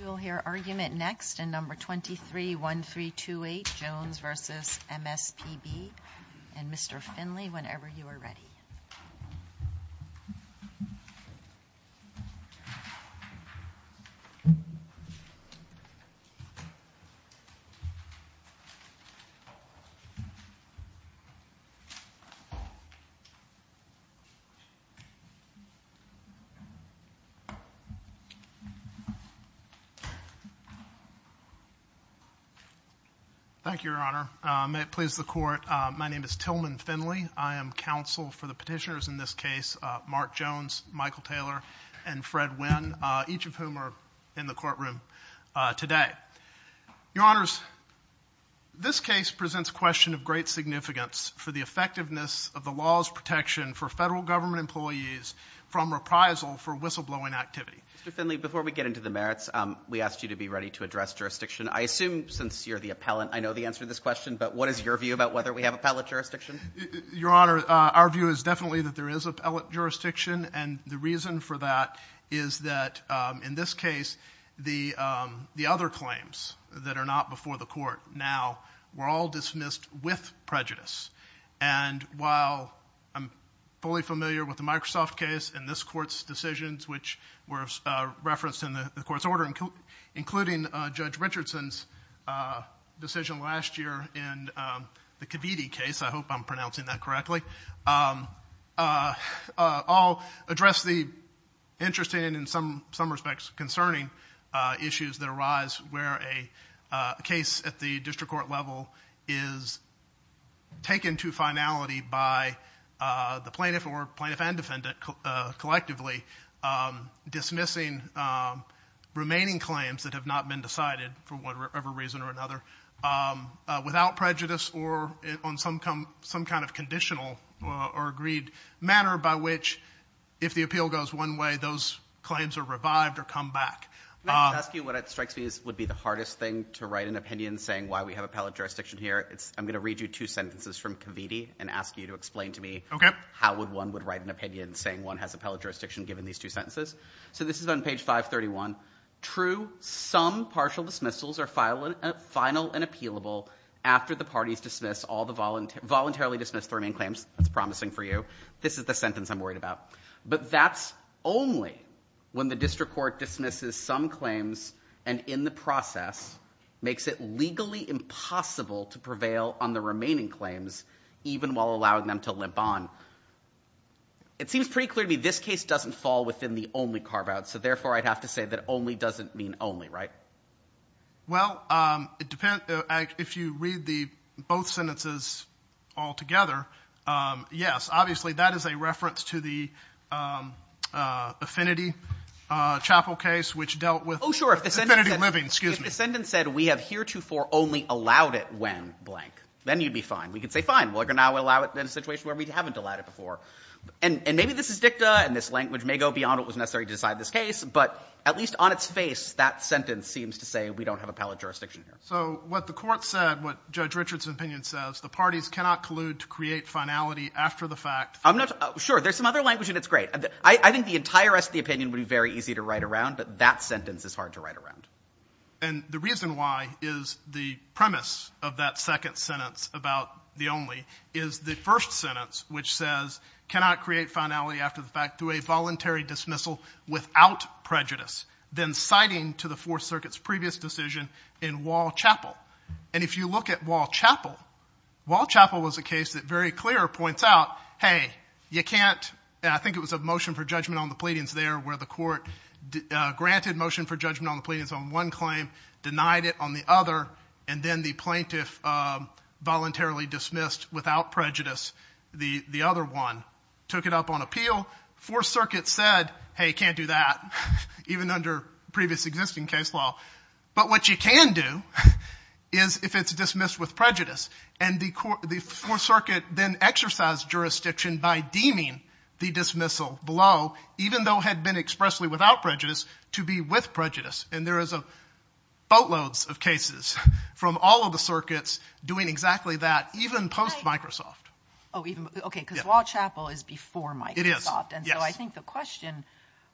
We will hear argument next in No. 231328, Jones v. MSPB, and Mr. Finley, whenever you are ready. MSPB Thank you, Your Honor. May it please the Court, my name is Tillman Finley. I am counsel for the petitioners in this case, Mark Jones, Michael Taylor, and Fred Winn, each of whom are in the courtroom today. Your Honors, this case presents a question of great significance for the effectiveness of the laws protection for federal government employees from reprisal for whistleblowing activity. MSPB Mr. Finley, before we get into the merits, we ask you to be ready to address jurisdiction. I assume since you are the appellant, I know the answer to this question, but what is your view about whether we have appellate jurisdiction? MSPB Your Honor, our view is definitely that there is appellate jurisdiction, and the reason for that is that in this case, the other claims that are not before the Court now were all decisions which were referenced in the Court's order, including Judge Richardson's decision last year in the Khabidi case. I hope I am pronouncing that correctly. All address the interesting and in some respects concerning issues that arise where a case at the district court level is taken to finality by the plaintiff or plaintiff and defendant collectively dismissing remaining claims that have not been decided for whatever reason or another without prejudice or on some kind of conditional or agreed manner by which if the appeal goes one way, those claims are revived or come back. I'm going to read you two sentences from Khabidi and ask you to explain to me how one would write an opinion saying one has appellate jurisdiction given these two sentences. So this is on page 531. True, some partial dismissals are final and appealable after the parties dismiss all the voluntarily dismissed remaining claims. That's promising for you. This is the sentence I'm worried about. But that's only when the district court dismisses some claims and in the process makes it legally impossible to prevail on the remaining claims even while allowing them to live on. It seems pretty clear to me this case doesn't fall within the only carve out, so therefore I'd have to say that only doesn't mean only, right? Well, it depends. If you read the both sentences all together, yes, obviously that is a reference to the affinity chapel case which dealt with affinity living, excuse me. If the sentence said we have heretofore only allowed it when blank, then you'd be fine. We could say fine, we're going to allow it in a situation where we haven't allowed it before. And maybe this is dicta and this language may go beyond what was necessary to decide this case, but at least on its face, that sentence seems to say we don't have a pallet jurisdiction. So what the court said, what Judge Richard's opinion says, the parties cannot collude to create finality after the fact. I'm not sure. There's some other language and it's great. I think the entire rest of the opinion would be very easy to write around, but that sentence is hard to write around. And the reason why is the premise of that second sentence about the only is the first sentence which says cannot create finality after the fact through a voluntary dismissal without prejudice, then citing to the Fourth Circuit's previous decision in Wall Chapel. And if you look at Wall Chapel, Wall Chapel was a case that very clear points out, hey, you can't, I think it was a motion for judgment on the pleadings there where the court granted motion for judgment on the pleadings on one claim, denied it on the other, and then the plaintiff voluntarily dismissed without prejudice the other one, took it up on appeal. Fourth Circuit said, hey, you can't do that, even under previous existing case law. But what you can do is if it's dismissed with prejudice. And the Fourth Circuit then exercised jurisdiction by deeming the dismissal below, even though it had been expressly without prejudice, to be with prejudice. And there is a boatload of cases from all of the circuits doing exactly that, even post-Microsoft. Oh, even, okay, because Wall Chapel is before Microsoft. It is. And so I think the question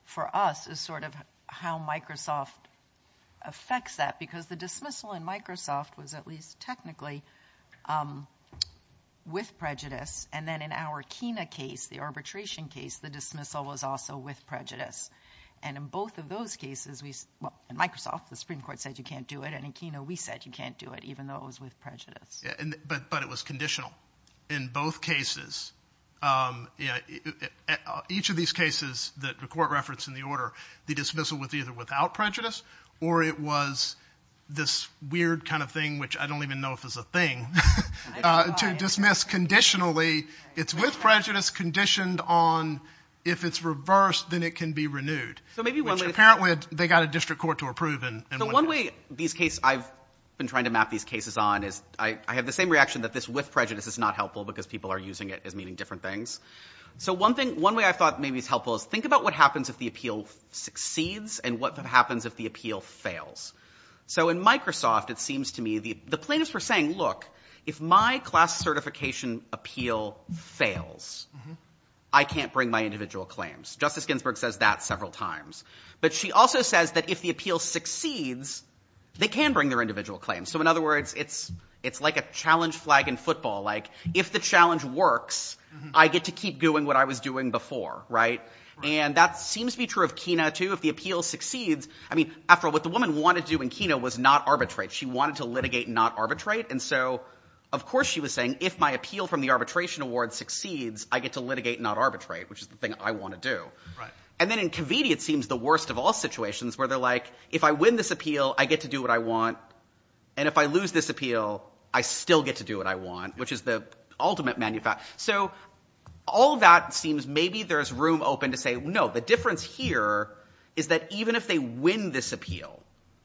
for us is sort of how Microsoft affects that, because the dismissal in Microsoft was at least technically with prejudice. And then in our Kena case, the arbitration case, the dismissal was also with prejudice. And in both of those cases, well, in Microsoft, the Supreme Court said you can't do it, and in Kena, we said you can't do it, even though it was with prejudice. But it was conditional in both cases. Each of these cases that the court referenced in the order, the dismissal was either without prejudice, or it was this weird kind of thing, which I don't even know if it's a thing, to dismiss conditionally. It's with prejudice conditioned on if it's reversed, then it can be renewed. So maybe one way Which apparently they got a district court to approve and So one way these cases, I've been trying to map these cases on is I have the same reaction that this with prejudice is not helpful because people are using it as meaning different things. So one thing, one way I thought maybe is helpful is think about what happens if the appeal succeeds and what happens if the appeal fails. So in Microsoft, it seems to me the plaintiffs were saying, look, if my class certification appeal fails, I can't bring my individual claims. Justice Ginsburg says that several times. But she also says that if the appeal succeeds, they can bring their individual claims. So in other words, it's like a challenge flag in football. Like if the challenge works, I get to keep doing what I was doing before. Right. And that seems to be true of Kena too. If the appeal succeeds, I mean, after all, what the woman wanted to do in Kena was not arbitrate. She wanted to litigate, not arbitrate. And so, of course, she was saying, if my appeal from the arbitration award succeeds, I get to litigate, not arbitrate, which is the thing I want to do. Right. And then in committee, it seems the worst of all situations where they're like, if I win this appeal, I get to do what I want. And if I lose this appeal, I still get to do what I want, which is the ultimate manifest. So all that seems maybe there is room open to say, no, the difference here is that even if they win this appeal,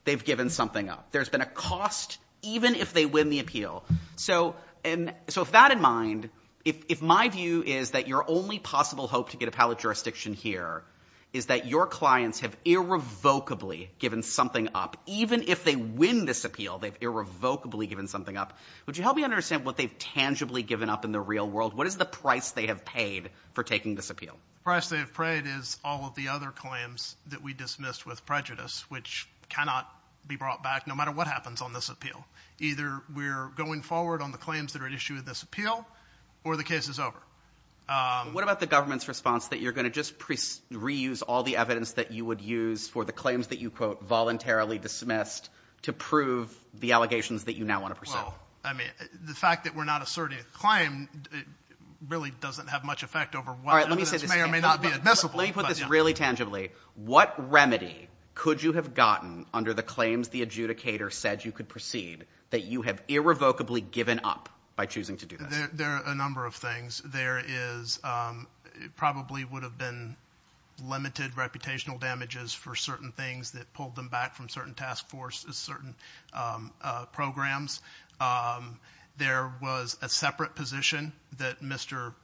they've given something up. There's been a cost, even if they win the appeal. So with that in mind, if my view is that your only possible hope to get appellate jurisdiction here is that your clients have irrevocably given something up, even if they win this appeal, they've irrevocably given something up. Would you help me understand what they've tangibly given up in the real world? What is the price they have paid for taking this appeal? The price they have paid is all of the other claims that we dismissed with prejudice, which cannot be brought back no matter what happens on this appeal. Either we're going forward on the claims that are at issue with this appeal or the case is over. What about the government's response that you're going to just reuse all the evidence that you would use for the claims that you quote voluntarily dismissed to prove the allegations that you now want to present? Well, I mean, the fact that we're not asserting a claim really doesn't have much effect over what evidence may or may not be admissible. Let me put this really tangibly. What remedy could you have gotten under the claims the adjudicator said you could proceed that you have irrevocably given up by choosing to do that? There are a number of things. There probably would have been limited reputational damages for certain things that pulled them back from certain task forces, certain programs. There was a separate position that Mr.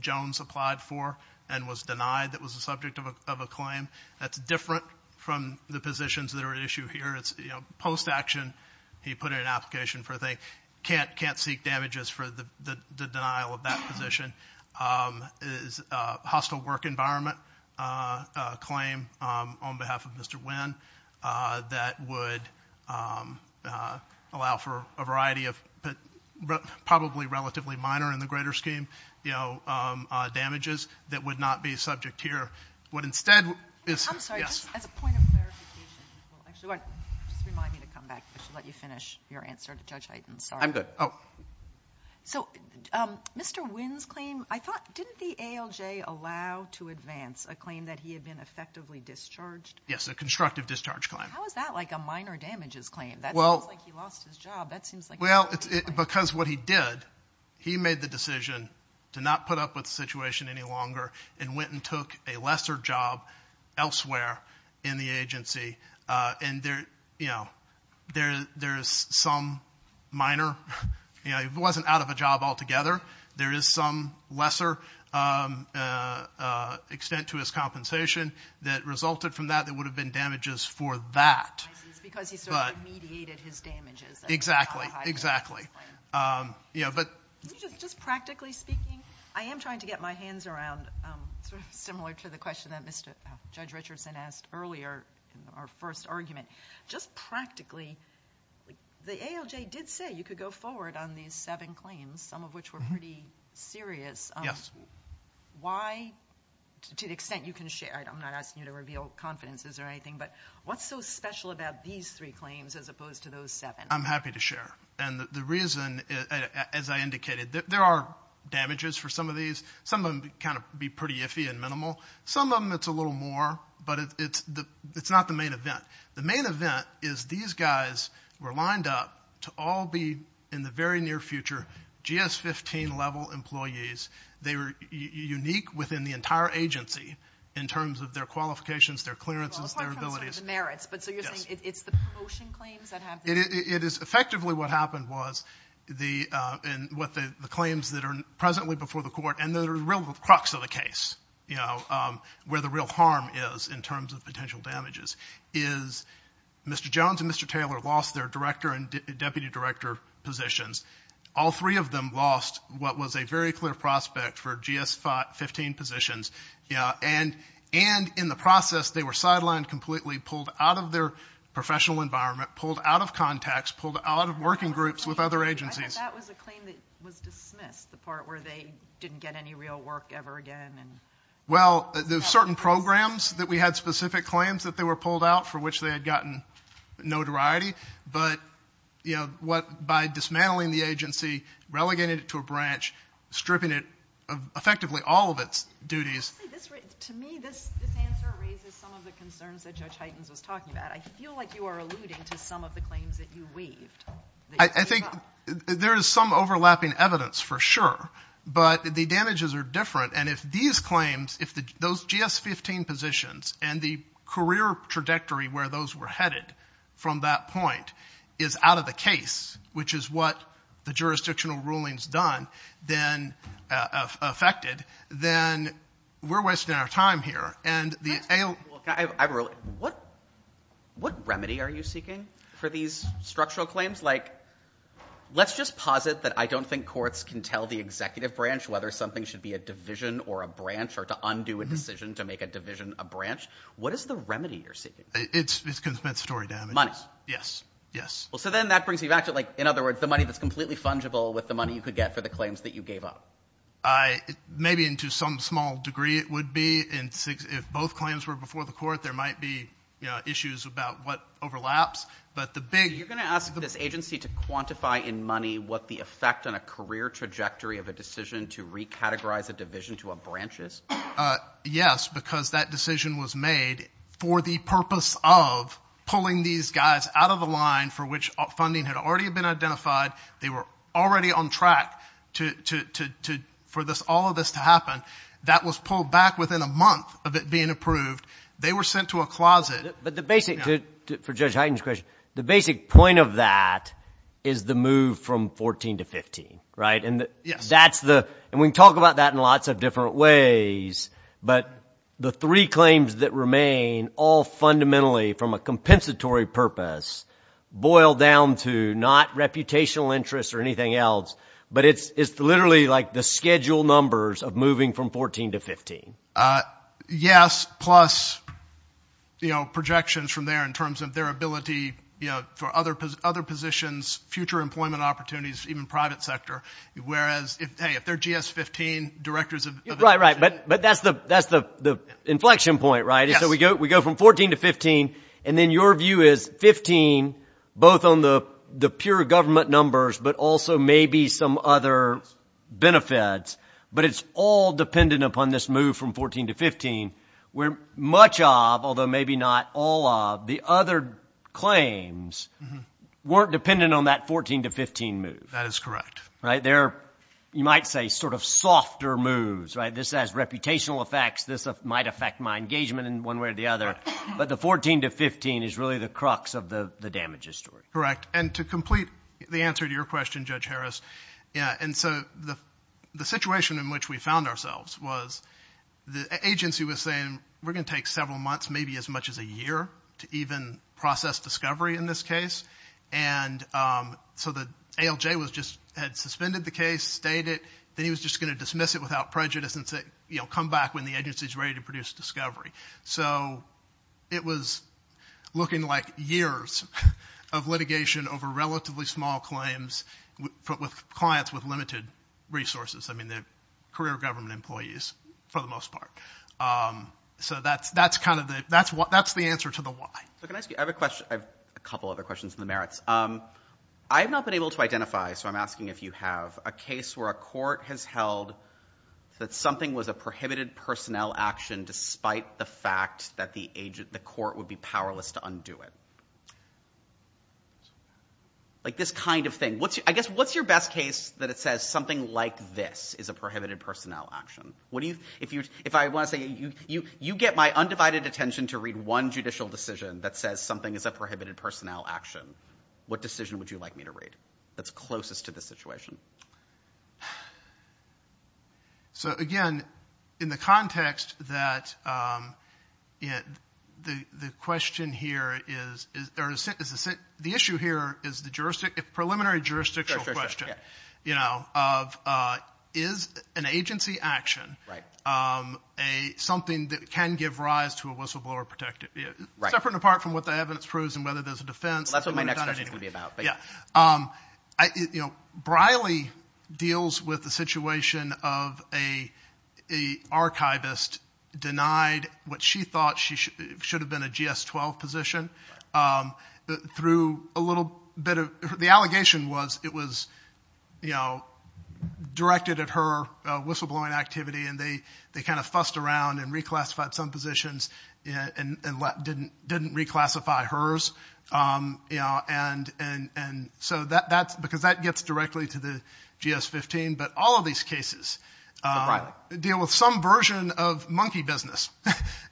Jones applied for and was denied that was the subject of a claim. That's different from the positions that are at issue here. It's post-action. He put in an application for they can't seek damages for the denial of that position. It would have been a relatively minor in the greater scheme damages that would not be subject here. I'm sorry. Just as a point of clarification. I should let you finish your answer, Judge Hyten. I'm good. So Mr. Wynn's claim, didn't the ALJ allow to advance a claim that he had been effectively discharged? Yes, a constructive discharge claim. How is that like a minor damages claim? That sounds like he lost his job. Well, because what he did, he made the decision to not put up with the situation any longer and went and took a lesser job elsewhere in the agency. And there's some minor, it wasn't out of a job altogether. There is some lesser extent to his compensation that resulted from that that would have been damages for that. Because he sort of mediated his damages. Exactly. Exactly. Just practically speaking, I am trying to get my hands around similar to the question that Judge Richardson asked earlier, our first argument. Just practically, the ALJ did say you could go forward on these seven claims, some of which were pretty serious. Yes. Why, to the extent you can share it, I'm not asking you to reveal confidences or anything, but what's so special about these three claims as opposed to those seven? I'm happy to share. And the reason, as I indicated, there are damages for some of these. Some of them kind of be pretty iffy and minimal. Some of them it's a little more, but it's not the main event. The main event is these guys were lined up to all be, in the very near future, GS-15 level employees. They were unique within the entire agency in terms of their qualifications, their clearances, their abilities. It is effectively what happened was the claims that are presently before the court, and the real crux of the case, where the real harm is in terms of potential damages, is Mr. Jones and Mr. Taylor lost their director and deputy director positions. All three of them lost what was a very clear prospect for GS-15 positions. And in the process, they were sidelined completely, pulled out of their professional environment, pulled out of contacts, pulled out of working groups with other agencies. That was a claim that was dismissed, the part where they didn't get any real work ever again. Well, there's certain programs that we had specific claims that they were pulled out for which they had gotten notoriety, but by dismantling the agency, relegating it to a branch, stripping it of effectively all of its duties. To me, this answer raises some of the concerns that Judge Heitens was talking about. I feel like you are alluding to some of the claims that you waived. I think there is some overlapping evidence for sure, but the damages are different. And if these claims, if those GS-15 positions and the career trajectory where those were headed from that point is out of the case, which is what the jurisdictional rulings done, then affected, then we're wasting our time here. What remedy are you seeking for these structural claims? Like, let's just posit that I don't think courts can tell the executive branch whether something should be a division or a branch or to undo a decision to make a division a branch. What is the remedy you're seeking? It's story damage. Money. Yes. Yes. Well, so then that brings me back to, like, in other words, the money that's completely fungible with the money you could get for the claims that you gave up. Maybe to some small degree it would be. If both claims were before the court, there might be issues about what overlaps. But the big— So you're going to ask for this agency to quantify in money what the effect on a career trajectory of a decision to recategorize a division to a branch is? Yes, because that decision was made for the purpose of pulling these guys out of the line for which funding had already been identified. They were already on track for all of this to happen. That was pulled back within a month of it being approved. They were sent to a closet. But the basic—for Judge Hagen's question—the basic point of that is the move from 14 to 15, right? And that's the—and we can talk about that in lots of different ways. But the three claims that remain all fundamentally from a compensatory purpose boil down to not reputational interest or anything else, but it's literally, like, the schedule numbers of moving from 14 to 15. Yes, plus, you know, projections from there in terms of their ability, you know, for other positions, future employment opportunities, even private sector, whereas, hey, if they're GS-15 directors of— Right, right, but that's the inflection point, right? So we go from 14 to 15, and then your view is 15, both on the pure government numbers, but also maybe some other benefits, but it's all dependent upon this move from 14 to 15, where much of, although maybe not all of, the other claims weren't dependent on that 14 to 15 move. That is correct. They're, you might say, sort of softer moves, right? This has reputational effects. This might affect my engagement in one way or the other. But the 14 to 15 is really the crux of the damage history. Correct, and to complete the answer to your question, Judge Harris, yeah, and so the situation in which we found ourselves was the agency was saying, we're going to take several months, maybe as much as a year, to even process discovery in this case. And so the ALJ was just, had suspended the case, stayed it, then he was just going to dismiss it without prejudice and say, you know, come back when the agency is ready to produce discovery. So it was looking like years of litigation over relatively small claims with clients with limited resources. I mean, they're career government employees for the most part. So that's kind of the, that's the answer to the why. I have a question, a couple other questions in the merits. I have not been able to identify, so I'm asking if you have, a case where a court has held that something was a prohibited personnel action despite the fact that the court would be powerless to undo it. Like this kind of thing. I guess, what's your best case that it says something like this is a prohibited personnel action? What do you, if you, if I want to say, you get my undivided attention to read one judicial decision that says something is a prohibited personnel action. What decision would you like me to read that's closest to the situation? So again, in the context that the question here is, the issue here is the preliminary jurisdictional question. You know, is an agency action something that can give rise to a whistleblower protected? Right. Separate and apart from what the evidence proves and whether there's a defense. That's what my next question is going to be about. Briley deals with the situation of a archivist denied what she thought should have been a GS-12 position. Through a little bit of, the allegation was it was directed at her whistleblowing activity and they kind of fussed around and reclassified some positions and didn't reclassify hers. You know, and, and, and so that, that's because that gets directly to the GS-15, but all of these cases deal with some version of monkey business,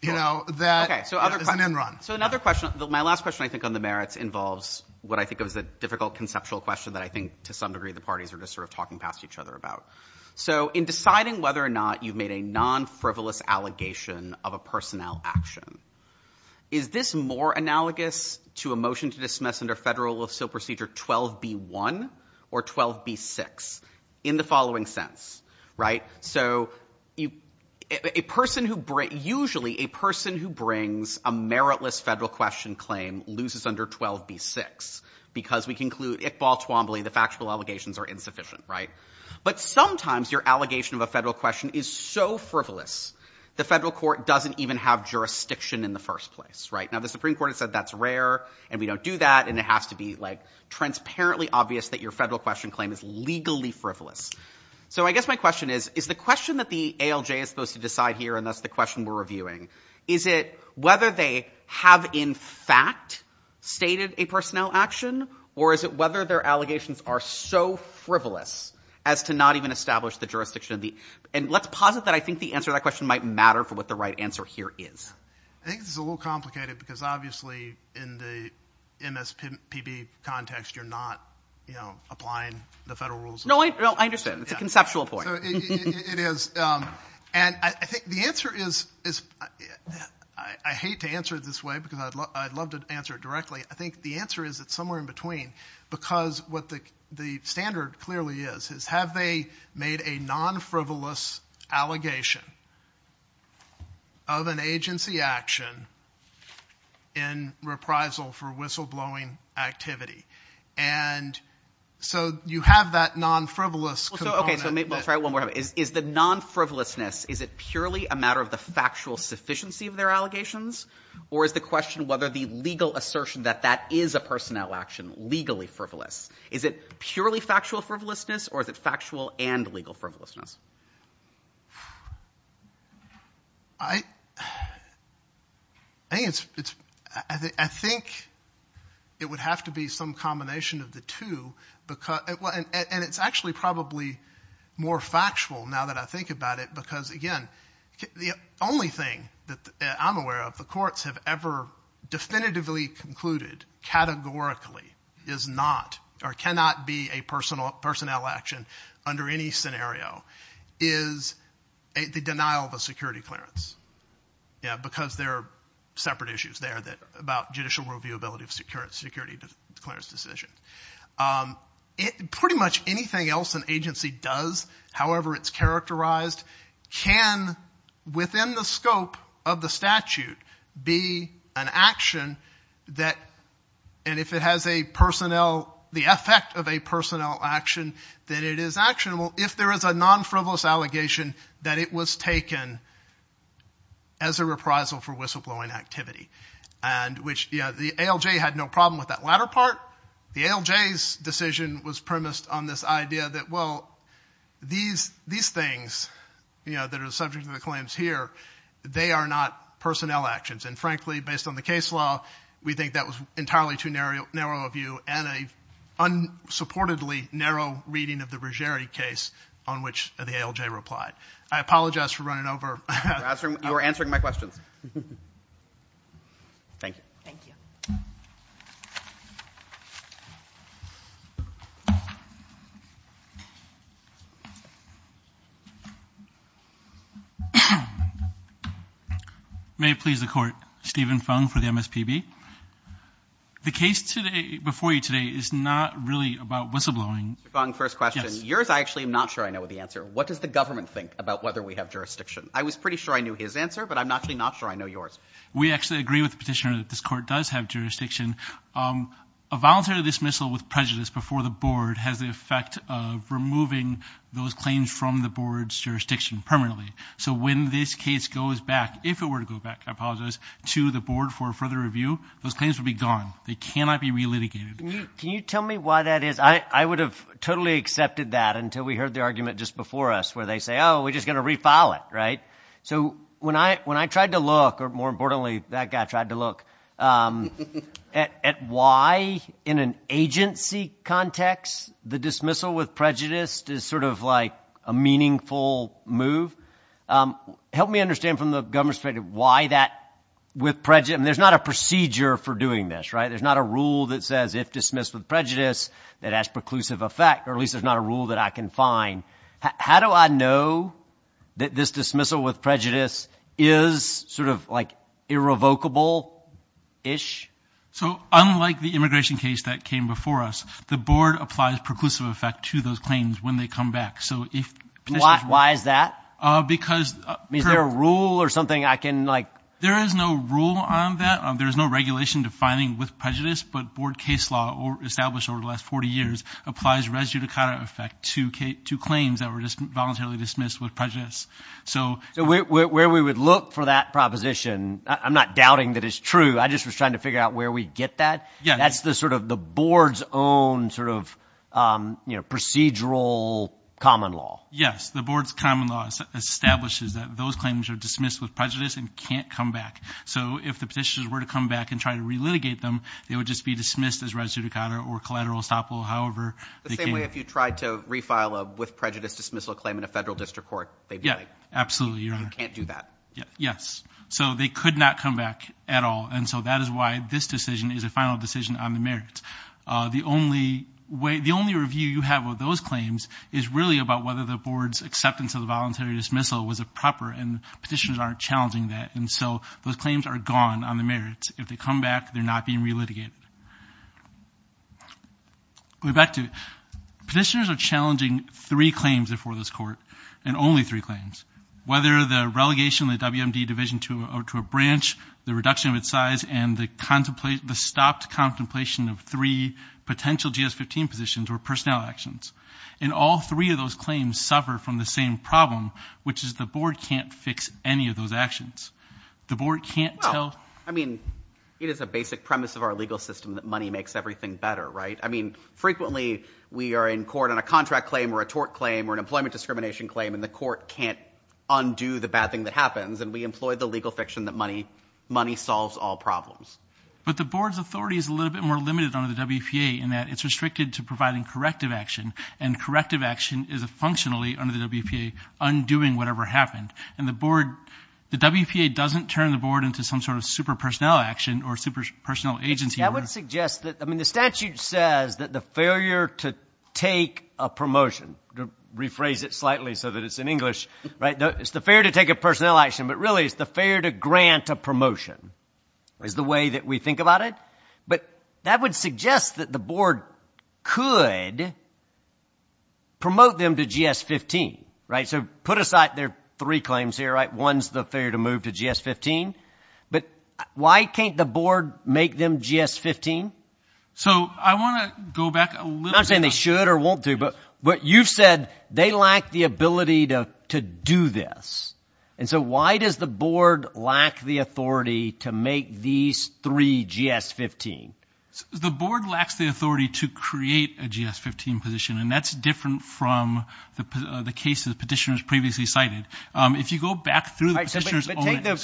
you know, that is an end run. So another question. My last question I think on the merits involves what I think was a difficult conceptual question that I think to some degree the parties are just sort of talking past each other about. So in deciding whether or not you've made a non-frivolous allegation of a personnel action, is this more analogous to a motion to dismiss under federal law so procedure 12b-1 or 12b-6? In the following sense, right? So a person who, usually a person who brings a meritless federal question claim loses under 12b-6 because we conclude ick, ball, swambley, the factual allegations are insufficient, right? But sometimes your allegation of a federal question is so frivolous the federal court doesn't even have jurisdiction in the first place, right? Now the Supreme Court has said that's rare and we don't do that and it has to be like transparently obvious that your federal question claim is legally frivolous. So I guess my question is, is the question that the ALJ is supposed to decide here and that's the question we're reviewing, is it whether they have in fact stated a personnel action or is it whether their allegations are so frivolous as to not even establish the jurisdiction? And let's posit that I think the answer to that question might matter for what the right answer here is. I think this is a little complicated because obviously in the MSPB context you're not applying the federal rules. No, I understand. It's a conceptual point. It is. And I think the answer is, I hate to answer it this way because I'd love to answer it directly, I think the answer is it's somewhere in between because what the standard clearly is, is have they made a non-frivolous allegation of an agency action in reprisal for whistleblowing activity? And so you have that non-frivolous component. Okay, so maybe I'll try one more time. Is the non-frivolousness, is it purely a matter of the factual sufficiency of their allegations or is the question whether the legal assertion that that is a personnel action legally frivolous? Is it purely factual frivolousness or is it factual and legal frivolousness? I think it would have to be some combination of the two. And it's actually probably more factual now that I think about it because again, the only thing that I'm aware of the courts have ever definitively concluded categorically is not or cannot be a personnel action under any scenario is the denial of a security clearance. Yeah, because there are separate issues there about judicial reviewability of security clearance decisions. Pretty much anything else an agency does, however it's characterized, can within the scope of the statute be an action that, and if it has a personnel, the effect of a personnel action, then it is actionable if there is a non-frivolous allegation that it was taken as a reprisal for whistleblowing activity. The ALJ had no problem with that latter part. The ALJ's decision was premised on this idea that, well, these things that are subject to the claims here, they are not personnel actions. And frankly, based on the case law, we think that was entirely too narrow a view and a unsupportedly narrow reading of the rigidity case on which the ALJ replied. I apologize for running over. You were answering my question. Thank you. Thank you. May it please the court. Steven Fung for the MSPB. The case before you today is not really about whistleblowing. Fung, first question. Yours I actually am not sure I know the answer. What does the government think about whether we have jurisdiction? I was pretty sure I knew his answer, but I'm actually not sure I know yours. We actually agree with the petitioner that this court does have jurisdiction. A voluntary dismissal with prejudice before the board has the effect of removing those claims from the board's jurisdiction permanently. So when this case goes back, if it were to go back, I apologize, to the board for further review, those claims would be gone. They cannot be relitigated. Can you tell me why that is? I would have totally accepted that until we heard the argument just before us where they say, oh, we're just going to refile it, right? So when I tried to look, or more importantly, that guy tried to look, at why in an agency context the dismissal with prejudice is sort of like a meaningful move, help me understand from the government's perspective why that with prejudice. There's not a procedure for doing this, right? There's not a rule that says if dismissed with prejudice, that has preclusive effect, or at least there's not a rule that I can find. How do I know that this dismissal with prejudice is sort of like irrevocable-ish? So unlike the immigration case that came before us, the board applies preclusive effect to those claims when they come back. Why is that? Because – Is there a rule or something I can like – There is no rule on that. There is no regulation defining with prejudice, but board case law established over the last 40 years applies res judicata effect to claims that were voluntarily dismissed with prejudice. So – Where we would look for that proposition, I'm not doubting that it's true. I just was trying to figure out where we'd get that. That's the sort of the board's own sort of procedural common law. Yes, the board's common law establishes that those claims are dismissed with prejudice and can't come back. So if the petitioners were to come back and try to relitigate them, they would just be dismissed as res judicata or collateral esophola. However, they can – The same way if you tried to refile a with prejudice dismissal claim in a federal district court, they get it. Absolutely, Your Honor. You can't do that. Yes. So they could not come back at all, and so that is why this decision is a final decision on the merits. The only way – the only review you have of those claims is really about whether the board's acceptance of the voluntary dismissal was proper, and petitioners aren't challenging that. And so those claims are gone on the merits. If they come back, they're not being relitigated. Going back to – petitioners are challenging three claims before this court, and only three claims, whether the relegation of the WMD division to a branch, the reduction of its size, and the stopped contemplation of three potential GS-15 positions or personnel actions. And all three of those claims suffer from the same problem, which is the board can't fix any of those actions. The board can't tell – I mean, it is a basic premise of our legal system that money makes everything better, right? I mean, frequently we are in court on a contract claim or a tort claim or an employment discrimination claim, and the court can't undo the bad thing that happens, and we employ the legal fiction that money solves all problems. But the board's authority is a little bit more limited under the WPA in that it's restricted to providing corrective action, and corrective action is functionally, under the WPA, undoing whatever happened. And the board – the WPA doesn't turn the board into some sort of super personnel action or super personnel agency. That would suggest that – I mean, the statute says that the failure to take a promotion – rephrase it slightly so that it's in English, right? It's the failure to take a personnel action, but really it's the failure to grant a promotion is the way that we think about it. But that would suggest that the board could promote them to GS-15, right? So put aside their three claims here, right? One's the failure to move to GS-15, but why can't the board make them GS-15? So I want to go back a little bit. I'm not saying they should or won't do, but you've said they lack the ability to do this. And so why does the board lack the authority to make these three GS-15? The board lacks the authority to create a GS-15 position, and that's different from the cases petitioners previously cited. If you go back through the petitioners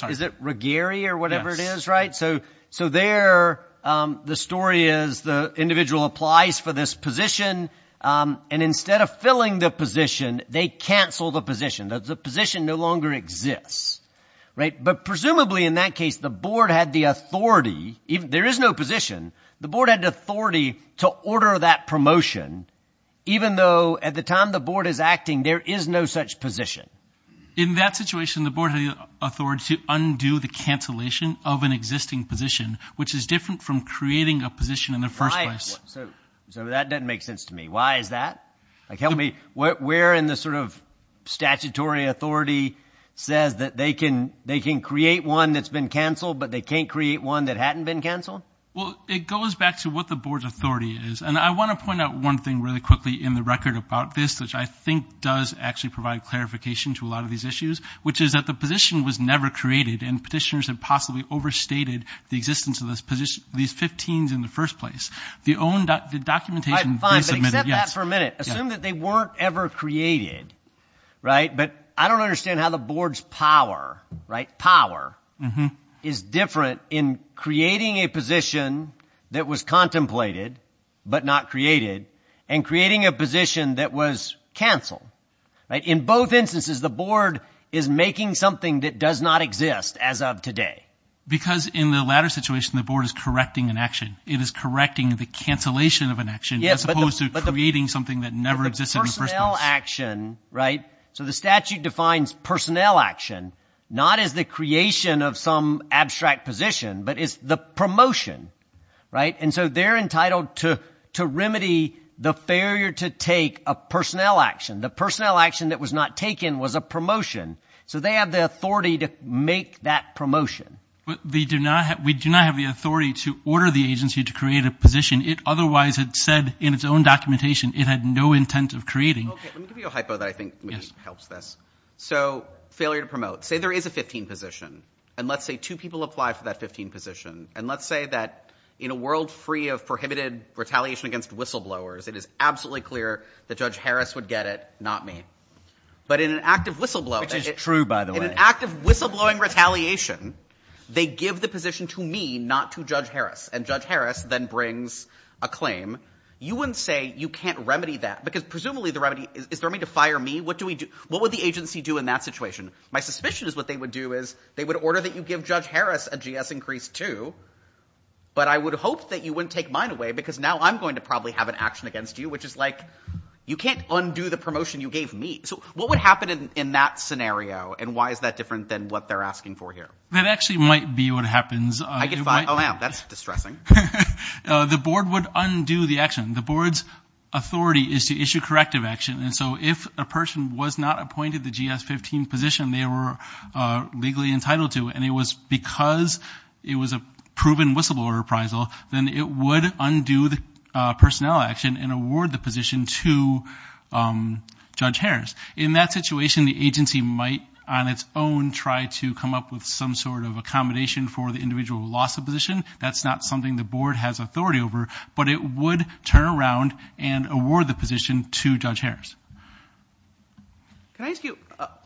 – Is it Regeary or whatever it is, right? So there the story is the individual applies for this position, and instead of filling the position, they cancel the position. The position no longer exists, right? But presumably in that case, the board had the authority – there is no position. The board had the authority to order that promotion, even though at the time the board is acting, there is no such position. In that situation, the board had the authority to undo the cancellation of an existing position, which is different from creating a position in the first place. So that doesn't make sense to me. Why is that? Tell me, where in the sort of statutory authority says that they can create one that's been canceled, but they can't create one that hadn't been canceled? Well, it goes back to what the board's authority is. And I want to point out one thing really quickly in the record about this, which I think does actually provide clarification to a lot of these issues, which is that the position was never created, and petitioners had possibly overstated the existence of these 15s in the first place. Fine, but exhibit that for a minute. Assume that they weren't ever created, right? But I don't understand how the board's power is different in creating a position that was contemplated but not created and creating a position that was canceled. In both instances, the board is making something that does not exist as of today. Because in the latter situation, the board is correcting an action. It is correcting the cancellation of an action as opposed to creating something that never existed in the first place. Personnel action, right? So the statute defines personnel action not as the creation of some abstract position, but it's the promotion. And so they're entitled to remedy the failure to take a personnel action. The personnel action that was not taken was a promotion. So they have the authority to make that promotion. We do not have the authority to order the agency to create a position. It otherwise had said in its own documentation it had no intent of creating. Let me give you a hypo that I think helps this. So failure to promote. Say there is a 15 position, and let's say two people apply for that 15 position. And let's say that in a world free of prohibited retaliation against whistleblowers, it is absolutely clear that Judge Harris would get it, not me. But in an act of whistleblowing retaliation, they give the position to me, not to Judge Harris. And Judge Harris then brings a claim. You wouldn't say you can't remedy that because presumably the remedy is for me to fire me. What do we do? What would the agency do in that situation? My suspicion is what they would do is they would order that you give Judge Harris a GS increase too. But I would hope that you wouldn't take mine away because now I'm going to probably have an action against you, which is like you can't undo the promotion you gave me. So what would happen in that scenario, and why is that different than what they're asking for here? That actually might be what happens. That's distressing. The board would undo the action. The board's authority is to issue corrective action. And so if a person was not appointed the GS 15 position they were legally entitled to, and it was because it was a proven whistleblower reprisal, then it would undo the personnel action and award the position to Judge Harris. In that situation, the agency might on its own try to come up with some sort of accommodation for the individual loss of position. That's not something the board has authority over, but it would turn around and award the position to Judge Harris. Can I ask you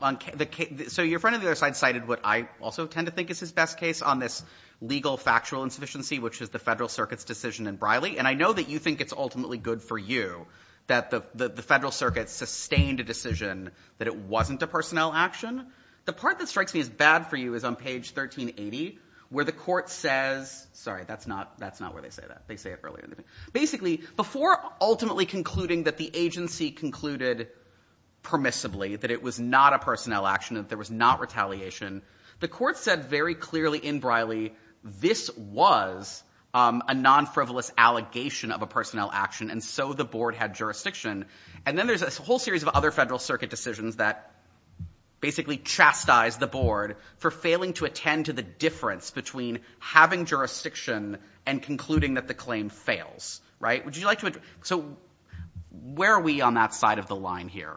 on the case? So your friend of the other side cited what I also tend to think is his best case on this legal factual insufficiency, which is the Federal Circuit's decision in Briley. And I know that you think it's ultimately good for you that the Federal Circuit sustained a decision that it wasn't a personnel action. The part that strikes me as bad for you is on page 1380 where the court says – sorry, that's not where they say that. They say it earlier. Basically, before ultimately concluding that the agency concluded permissibly that it was not a personnel action, that there was not retaliation, the court said very clearly in Briley this was a non-frivolous allegation of a personnel action, and so the board had jurisdiction. And then there's a whole series of other Federal Circuit decisions that basically chastise the board for failing to attend to the difference between having jurisdiction and concluding that the claim fails. So where are we on that side of the line here?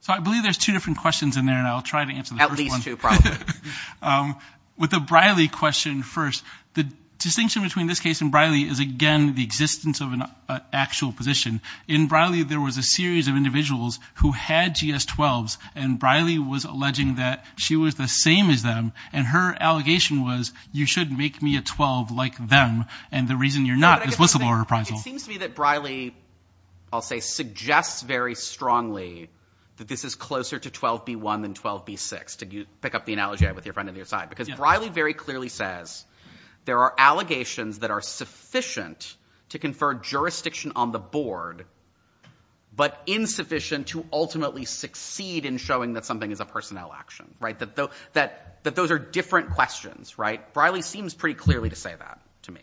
So I believe there's two different questions in there, and I'll try to answer the first one. At least two, probably. With the Briley question first, the distinction between this case and Briley is, again, the existence of an actual position. In Briley there was a series of individuals who had GS-12s, and Briley was alleging that she was the same as them, and her allegation was you shouldn't make me a 12 like them, and the reason you're not implicitly a reprisal. It seems to me that Briley, I'll say, suggests very strongly that this is closer to 12b-1 than 12b-6, to pick up the analogy I had with your friend on the other side, because Briley very clearly says there are allegations that are sufficient to confer jurisdiction on the board but insufficient to ultimately succeed in showing that something is a personnel action, that those are different questions. Briley seems pretty clearly to say that to me.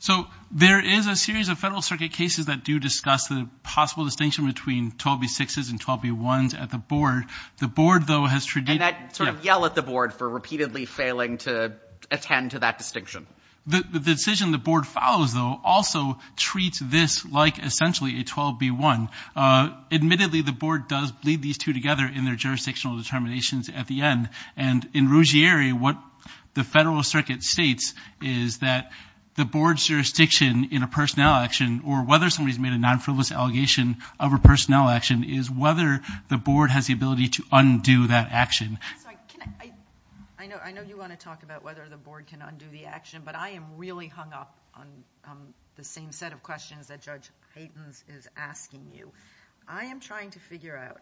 So there is a series of Federal Circuit cases that do discuss the possible distinction between 12b-6s and 12b-1s at the board. And that sort of yell at the board for repeatedly failing to attend to that distinction. The decision the board follows, though, also treats this like essentially a 12b-1. Admittedly, the board does lead these two together in their jurisdictional determinations at the end, and in Ruggieri what the Federal Circuit states is that the board's jurisdiction in a personnel action, or whether somebody's made a non-frivolous allegation of a personnel action, is whether the board has the ability to undo that action. I know you want to talk about whether the board can undo the action, but I am really hung up on the same set of questions that Judge Patins is asking you. I am trying to figure out,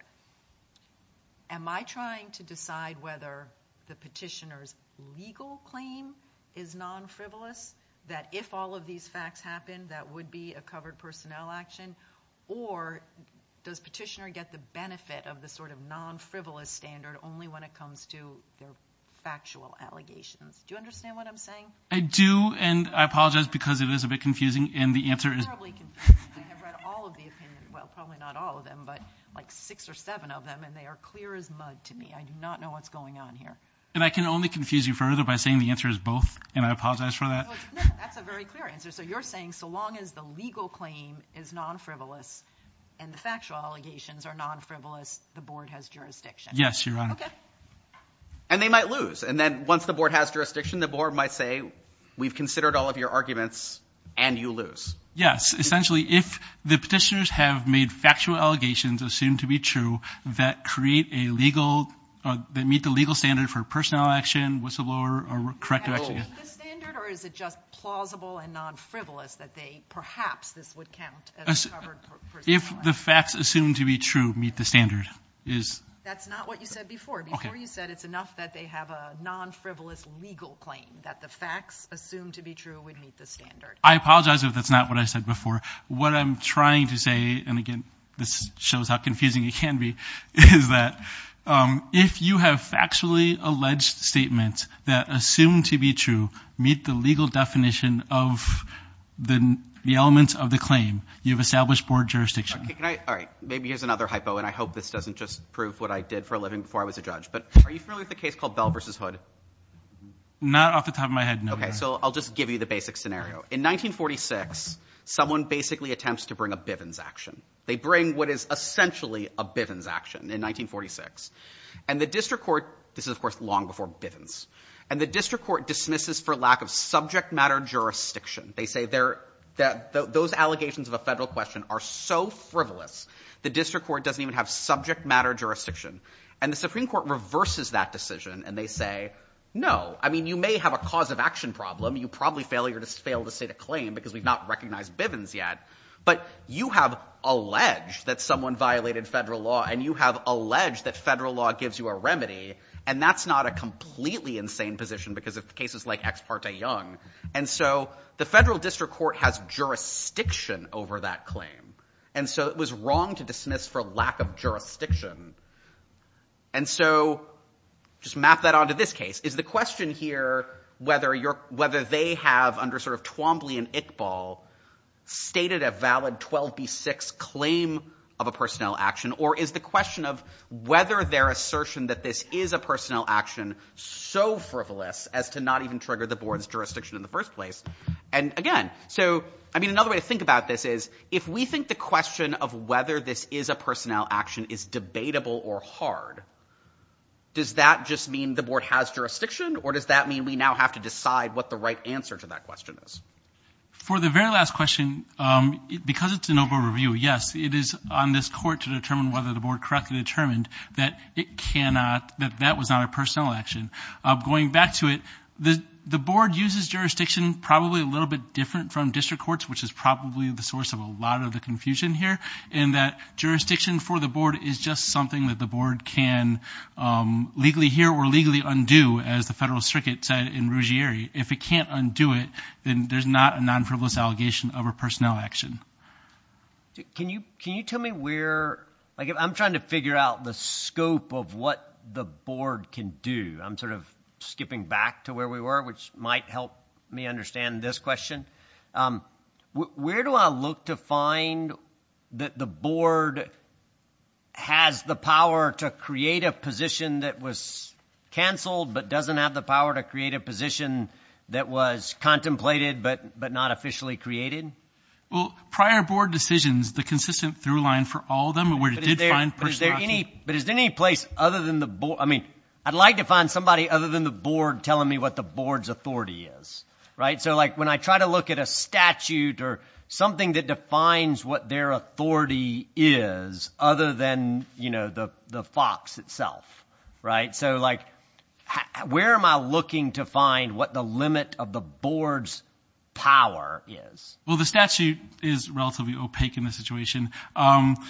am I trying to decide whether the petitioner's legal claim is non-frivolous, that if all of these facts happen, that would be a covered personnel action, or does the petitioner get the benefit of the sort of non-frivolous standard only when it comes to factual allegations? Do you understand what I'm saying? I do, and I apologize because it is a bit confusing, and the answer is- It's probably confusing. I've read all of the opinions, well, probably not all of them, but like six or seven of them, and they are clear as mud to me. I do not know what's going on here. And I can only confuse you further by saying the answer is both, and I apologize for that. No, that's a very clear answer. So you're saying so long as the legal claim is non-frivolous and the factual allegations are non-frivolous, the Board has jurisdiction. Yes, Your Honor. Okay. And they might lose, and then once the Board has jurisdiction, the Board might say, we've considered all of your arguments, and you lose. Yes, essentially, if the petitioners have made factual allegations assumed to be true that create a legal- that meet the legal standard for personnel action, whistleblower, or corrective action- Does it meet the standard, or is it just plausible and non-frivolous that they-perhaps this would count as- If the facts assumed to be true meet the standard. That's not what you said before. Before you said it's enough that they have a non-frivolous legal claim, that the facts assumed to be true would meet the standard. I apologize if that's not what I said before. What I'm trying to say, and again, this shows how confusing it can be, is that if you have factually alleged statements that assume to be true, meet the legal definition of the elements of the claim, you've established Board jurisdiction. All right. Maybe here's another hypo, and I hope this doesn't just prove what I did for a living before I was a judge, but are you familiar with the case called Bell v. Hood? Not off the top of my head, no. Okay, so I'll just give you the basic scenario. In 1946, someone basically attempts to bring a Bivens action. They bring what is essentially a Bivens action in 1946. And the district court- This is, of course, long before Bivens. And the district court dismisses for lack of subject matter jurisdiction. They say those allegations of a federal question are so frivolous, the district court doesn't even have subject matter jurisdiction. And the Supreme Court reverses that decision, and they say, no. I mean, you may have a cause of action problem. You probably failed to state a claim because we've not recognized Bivens yet, but you have alleged that someone violated federal law, and you have alleged that federal law gives you a remedy, and that's not a completely insane position because of cases like Ex parte Young. And so the federal district court has jurisdiction over that claim. And so it was wrong to dismiss for lack of jurisdiction. And so just map that onto this case. Is the question here whether they have, under sort of Twombly and Iqbal, stated a valid 12B6 claim of a personnel action, or is the question of whether their assertion that this is a personnel action so frivolous as to not even trigger the board's jurisdiction in the first place? And, again, so, I mean, another way to think about this is, if we think the question of whether this is a personnel action is debatable or hard, does that just mean the board has jurisdiction, or does that mean we now have to decide what the right answer to that question is? For the very last question, because it's an open review, yes, it is on this court to determine whether the board correctly determined that it cannot, that that was not a personnel action. Going back to it, the board uses jurisdiction probably a little bit different from district courts, which is probably the source of a lot of the confusion here, in that jurisdiction for the board is just something that the board can legally hear or legally undo, as the federal circuit said in Ruggieri. If it can't undo it, then there's not a non-frivolous allegation of a personnel action. Can you tell me where, like, I'm trying to figure out the scope of what the board can do. I'm sort of skipping back to where we were, which might help me understand this question. Where do I look to find that the board has the power to create a position that was canceled but doesn't have the power to create a position that was contemplated but not officially created? Well, prior board decisions, the consistent through line for all of them where it did find personnel action. But is there any place other than the board, I mean, I'd like to find somebody other than the board telling me what the board's authority is, right? So, like, when I try to look at a statute or something that defines what their authority is, other than, you know, the fox itself, right? So, like, where am I looking to find what the limit of the board's power is? Well, the statute is relatively opaque in this situation.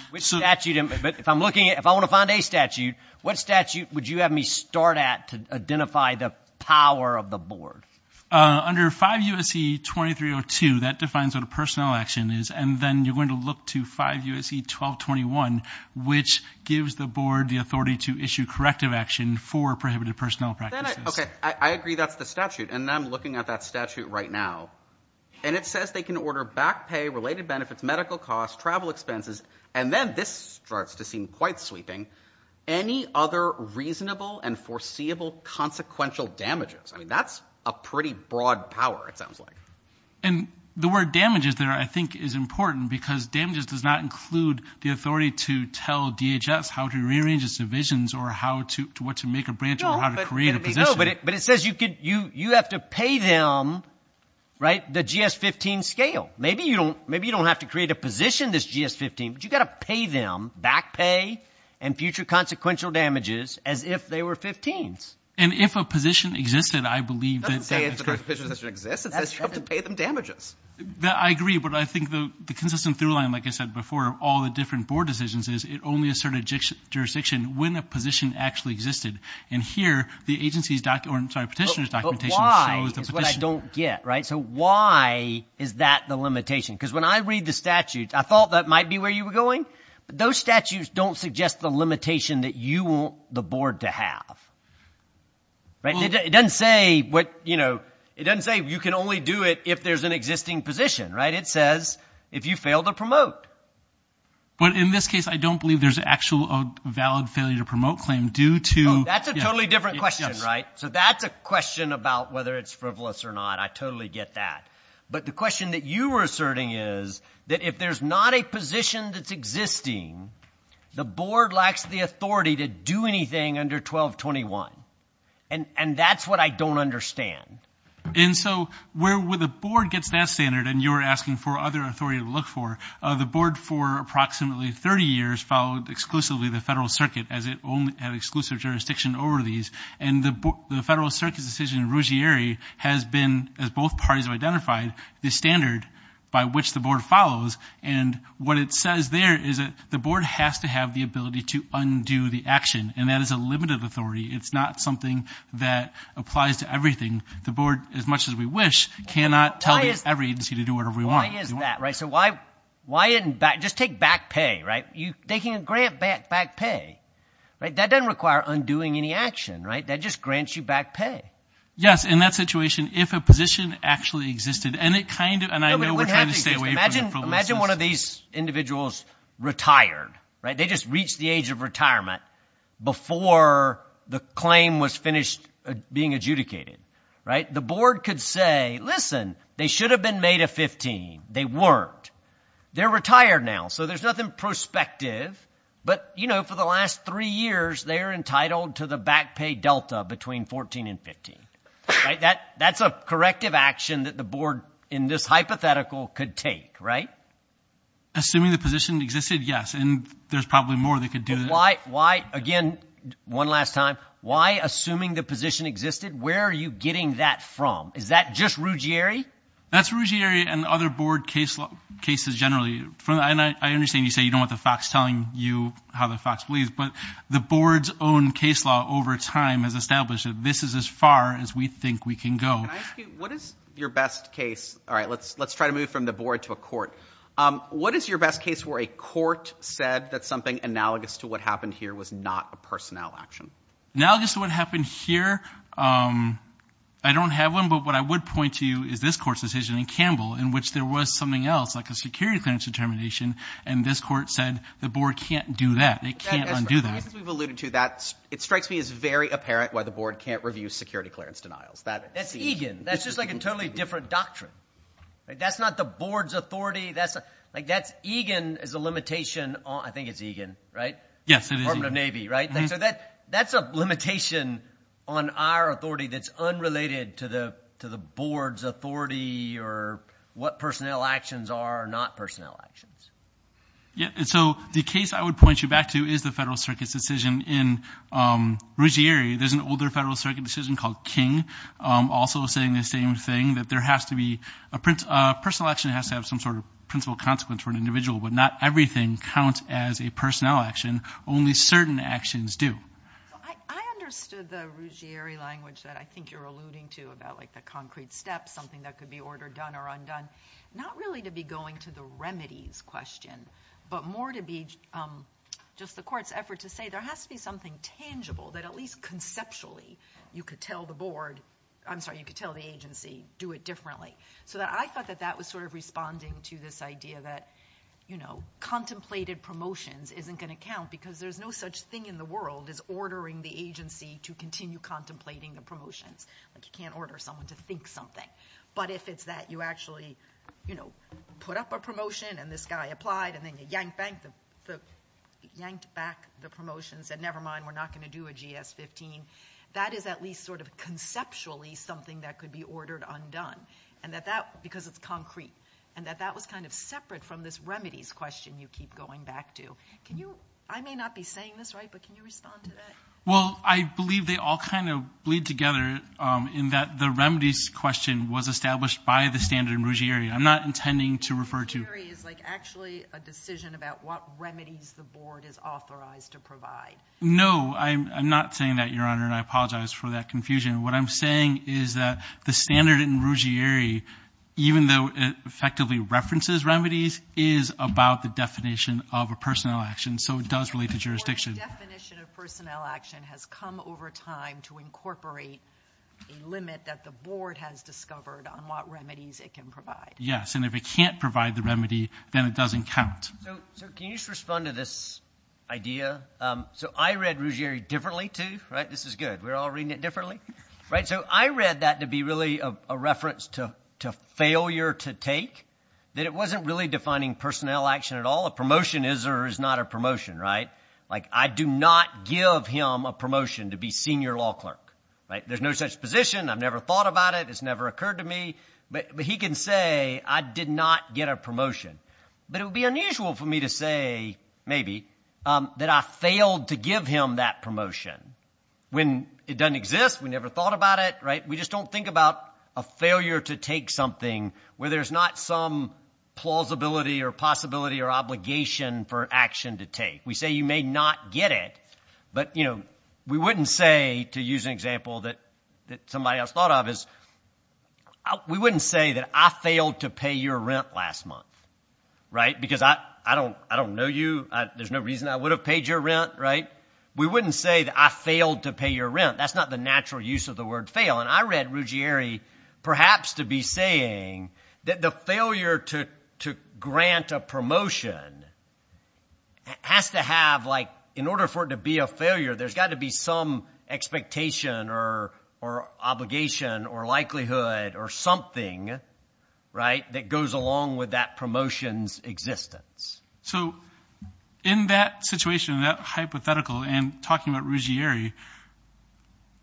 Which statute? If I'm looking at – if I want to find a statute, what statute would you have me start at to identify the power of the board? Under 5 U.S.C. 2302, that defines what a personnel action is, and then you're going to look to 5 U.S.C. 1221, which gives the board the authority to issue corrective action for prohibited personnel practices. Okay, I agree that's the statute, and I'm looking at that statute right now. And it says they can order back pay, related benefits, medical costs, travel expenses, and then this starts to seem quite sleeping, any other reasonable and foreseeable consequential damages. I mean that's a pretty broad power, it sounds like. And the word damages there, I think, is important because damages does not include the authority to tell DHS how to rearrange its divisions or what to make a branch or how to create a position. No, but it says you have to pay them the GS-15 scale. Maybe you don't have to create a position, this GS-15, but you've got to pay them back pay and future consequential damages as if they were 15s. And if a position existed, I believe that's correct. It doesn't say if a position existed. You have to pay them damages. I agree, but I think the consistent through line, like I said before, all the different board decisions is it only asserted jurisdiction when a position actually existed. And here, the agency's document, or I'm sorry, petitioner's documentation. But why is what I don't get, right? So why is that the limitation? Because when I read the statute, I thought that might be where you were going. Those statutes don't suggest the limitation that you want the board to have. It doesn't say you can only do it if there's an existing position, right? It says if you fail to promote. But in this case, I don't believe there's an actual valid failure to promote claim due to. That's a totally different question, right? So that's a question about whether it's frivolous or not. I totally get that. But the question that you were asserting is that if there's not a position that's existing, the board lacks the authority to do anything under 1221. And that's what I don't understand. And so where the board gets that standard, and you were asking for other authority to look for, the board for approximately 30 years followed exclusively the federal circuit as it only had exclusive jurisdiction over these. And the federal circuit decision in Ruggieri has been, as both parties have identified, the standard by which the board follows. And what it says there is that the board has to have the ability to undo the action, and that is a limited authority. It's not something that applies to everything. The board, as much as we wish, cannot tell every agency to do whatever we want. Why is that, right? So why – just take back pay, right? You're taking a grant back pay. That doesn't require undoing any action, right? That just grants you back pay. Yes, in that situation, if a position actually existed, and it kind of – and I know we're trying to stay away from it. Imagine one of these individuals retired. They just reached the age of retirement before the claim was finished being adjudicated. The board could say, listen, they should have been made of 15. They weren't. They're retired now, so there's nothing prospective. But, you know, for the last three years, they're entitled to the back pay delta between 14 and 15. That's a corrective action that the board, in this hypothetical, could take, right? Assuming the position existed, yes, and there's probably more they could do. Why – again, one last time – why, assuming the position existed, where are you getting that from? Is that just Ruggieri? That's Ruggieri and other board cases generally. I understand you say you don't want the fox telling you how the fox leaves, but the board's own case law over time has established that this is as far as we think we can go. What is your best case – all right, let's try to move from the board to a court. What is your best case where a court said that something analogous to what happened here was not a personnel action? Analogous to what happened here? I don't have one, but what I would point to you is this court's decision in Campbell, in which there was something else, like a security clearance determination, and this court said the board can't do that. They can't undo that. We've alluded to that. It strikes me as very apparent why the board can't review security clearance denials. That's EGAN. That's just like a totally different doctrine. That's not the board's authority. That's – EGAN is a limitation on – I think it's EGAN, right? Yes, it is. Department of Navy, right? So that's a limitation on our authority that's unrelated to the board's authority or what personnel actions are not personnel actions. Yes, and so the case I would point you back to is the Federal Circuit's decision in Ruggieri. There's an older Federal Circuit decision called King also saying the same thing, that there has to be – a personnel action has to have some sort of principal consequence for an individual, but not everything counts as a personnel action. Only certain actions do. I understood the Ruggieri language that I think you're alluding to about, like, the concrete steps, something that could be ordered done or undone, not really to be going to the remedies question, but more to be just the court's effort to say there has to be something tangible that at least conceptually you could tell the board – I'm sorry, you could tell the agency do it differently. So I thought that that was sort of responding to this idea that, you know, contemplated promotions isn't going to count because there's no such thing in the world as ordering the agency to continue contemplating the promotions. Like, you can't order someone to think something. But if it's that you actually, you know, put up a promotion and this guy applied and then you yanked back the promotion and said, never mind, we're not going to do a GS-15, that is at least sort of conceptually something that could be ordered undone. And that that – because it's concrete. And that that was kind of separate from this remedies question you keep going back to. Can you – I may not be saying this right, but can you respond to that? Well, I believe they all kind of bleed together in that the remedies question was established by the standard in Ruggieri. I'm not intending to refer to – Ruggieri is, like, actually a decision about what remedies the board is authorized to provide. No, I'm not saying that, Your Honor, and I apologize for that confusion. What I'm saying is that the standard in Ruggieri, even though it effectively references remedies, is about the definition of a personnel action, so it does relate to jurisdiction. The definition of personnel action has come over time to incorporate a limit that the board has discovered on what remedies it can provide. Yes, and if it can't provide the remedy, then it doesn't count. So can you just respond to this idea? So I read Ruggieri differently, too, right? This is good. We're all reading it differently, right? So I read that to be really a reference to failure to take, that it wasn't really defining personnel action at all. A promotion is or is not a promotion, right? Like, I do not give him a promotion to be senior law clerk, right? There's no such position. I've never thought about it. It's never occurred to me. But he can say, I did not get a promotion. But it would be unusual for me to say, maybe, that I failed to give him that promotion. When it doesn't exist, we never thought about it, right? We just don't think about a failure to take something where there's not some plausibility or possibility or obligation for action to take. We say you may not get it, but, you know, we wouldn't say, to use an example that somebody else thought of, we wouldn't say that I failed to pay your rent last month, right? Because I don't know you. There's no reason I would have paid your rent, right? We wouldn't say that I failed to pay your rent. That's not the natural use of the word fail. And I read Ruggieri perhaps to be saying that the failure to grant a promotion has to have, like, in order for it to be a failure, there's got to be some expectation or obligation or likelihood or something, right, that goes along with that promotion's existence. So in that situation, that hypothetical, and talking about Ruggieri,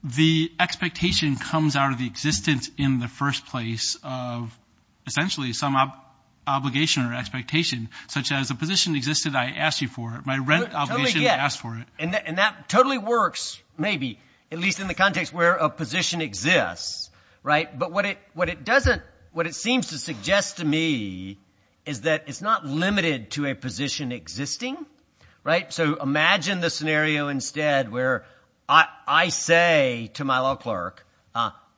the expectation comes out of the existence in the first place of, essentially, some obligation or expectation, such as the position existed, I asked you for it. My rent obligation, I asked for it. And that totally works, maybe, at least in the context where a position exists, right? But what it seems to suggest to me is that it's not limited to a position existing, right? So imagine the scenario instead where I say to my law clerk,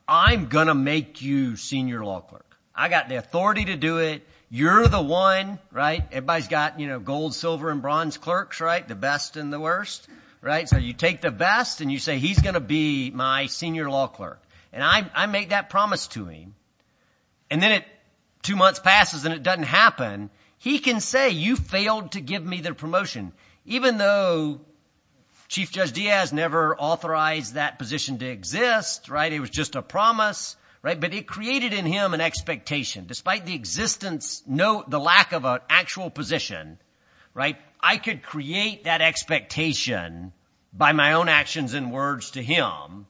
I'm going to make you senior law clerk. I've got the authority to do it. You're the one, right? Everybody's got gold, silver, and bronze clerks, right, the best and the worst, right? So you take the best and you say he's going to be my senior law clerk. And I make that promise to him. And then two months passes and it doesn't happen. He can say you failed to give me the promotion, even though Chief Judge Diaz never authorized that position to exist, right? It was just a promise, right? But it created in him an expectation. Despite the existence, the lack of an actual position, right, I could create that expectation by my own actions and words to him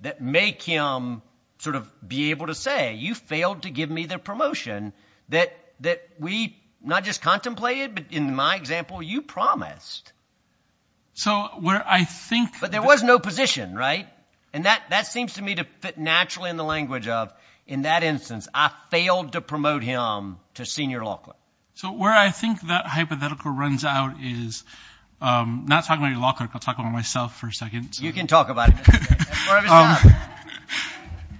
that make him sort of be able to say, you failed to give me the promotion that we not just contemplated, but in my example, you promised. But there was no position, right? And that seems to me to fit naturally in the language of, in that instance, I failed to promote him to senior law clerk. So where I think that hypothetical runs out is not talking about any law clerks. I'll talk about myself for a second. You can talk about it.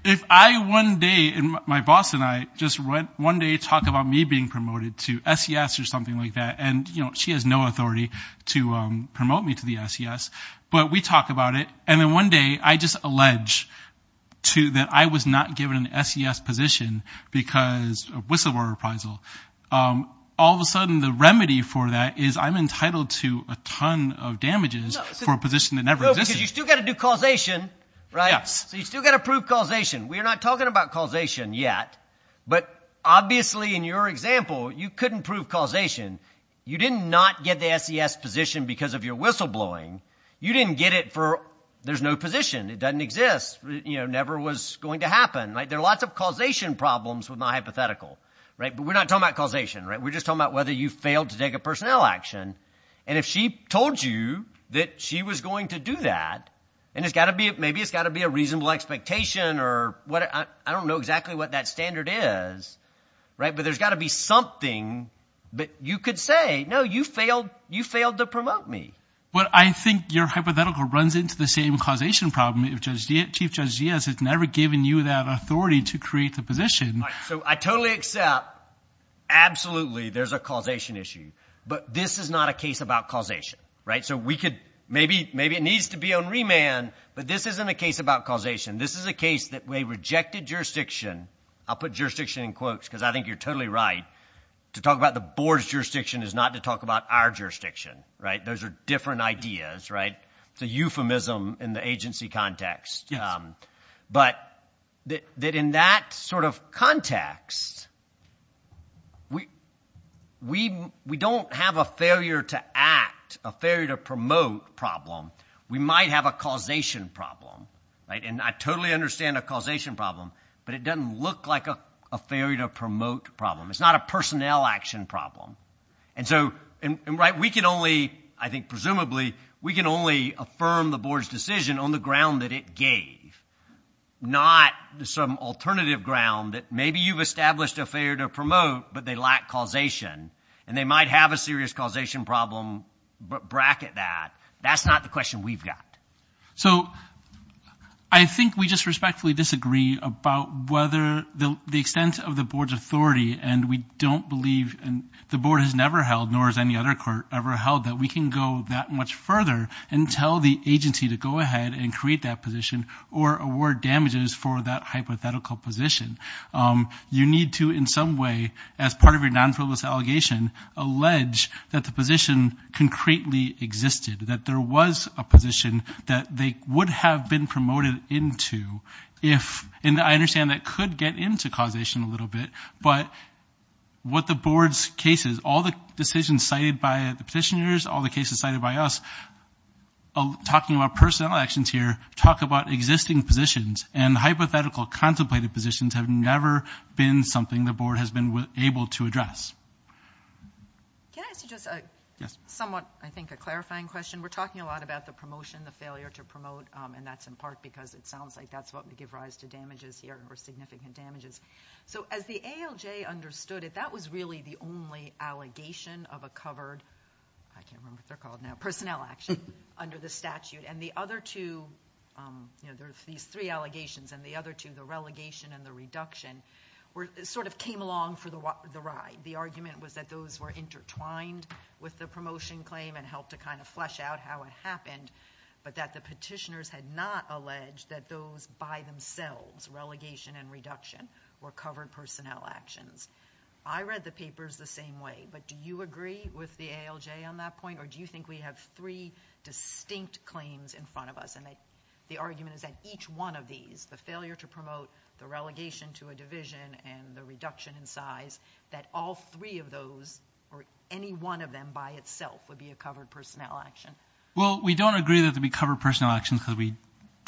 If I one day and my boss and I just went one day to talk about me being promoted to SES or something like that, and she has no authority to promote me to the SES, but we talk about it. And then one day I just allege that I was not given an SES position because of whistleblower reprisal. All of a sudden the remedy for that is I'm entitled to a ton of damages for a position that never existed. No, because you've still got to do causation, right? So you've still got to prove causation. We're not talking about causation yet, but obviously in your example, you couldn't prove causation. You did not get the SES position because of your whistleblowing. You didn't get it for there's no position. It doesn't exist. It never was going to happen. There are lots of causation problems with my hypothetical, but we're not talking about causation. We're just talking about whether you failed to take a personnel action. And if she told you that she was going to do that, and maybe it's got to be a reasonable expectation or I don't know exactly what that standard is, but there's got to be something that you could say, no, you failed to promote me. Well, I think your hypothetical runs into the same causation problem. Chief Judge Diaz has never given you that authority to create the position. So I totally accept. Absolutely. There's a causation issue. But this is not a case about causation. Right. So we could maybe maybe it needs to be on remand. But this isn't a case about causation. This is a case that we rejected jurisdiction. I'll put jurisdiction in quotes because I think you're totally right. To talk about the board's jurisdiction is not to talk about our jurisdiction. Right. Those are different ideas. Right. It's a euphemism in the agency context. But in that sort of context, we don't have a failure to act, a failure to promote problem. We might have a causation problem. And I totally understand a causation problem, but it doesn't look like a failure to promote problem. It's not a personnel action problem. And so we can only I think presumably we can only affirm the board's decision on the ground that it gave, not some alternative ground that maybe you've established a failure to promote, but they lack causation. And they might have a serious causation problem. But bracket that. That's not the question we've got. So I think we just respectfully disagree about whether the extent of the board's authority and we don't believe and the board has never held nor has any other court ever held that we can go that much further and tell the agency to go ahead and create that position or award damages for that hypothetical position. You need to in some way as part of your non-flawless allegation allege that the position concretely existed, that there was a position that they would have been promoted into. And I understand that could get into causation a little bit. But what the board's case is, all the decisions cited by the petitioners, all the cases cited by us, talking about personnel actions here, talk about existing positions and hypothetical contemplated positions have never been something the board has been able to address. Can I ask just somewhat I think a clarifying question? We're talking a lot about the promotion, the failure to promote, and that's in part because it sounds like that's what would give rise to damages here or significant damages. So as the ALJ understood it, that was really the only allegation of a covered, I can't remember what they're called now, personnel action under the statute. And the other two, there's these three allegations, and the other two, the relegation and the reduction, sort of came along for the ride. The argument was that those were intertwined with the promotion claim and helped to kind of flesh out how it happened, but that the petitioners had not alleged that those by themselves, relegation and reduction, were covered personnel actions. I read the papers the same way, but do you agree with the ALJ on that point, or do you think we have three distinct claims in front of us? And the argument is that each one of these, the failure to promote, that all three of those or any one of them by itself would be a covered personnel action. Well, we don't agree that they'd be covered personnel actions because we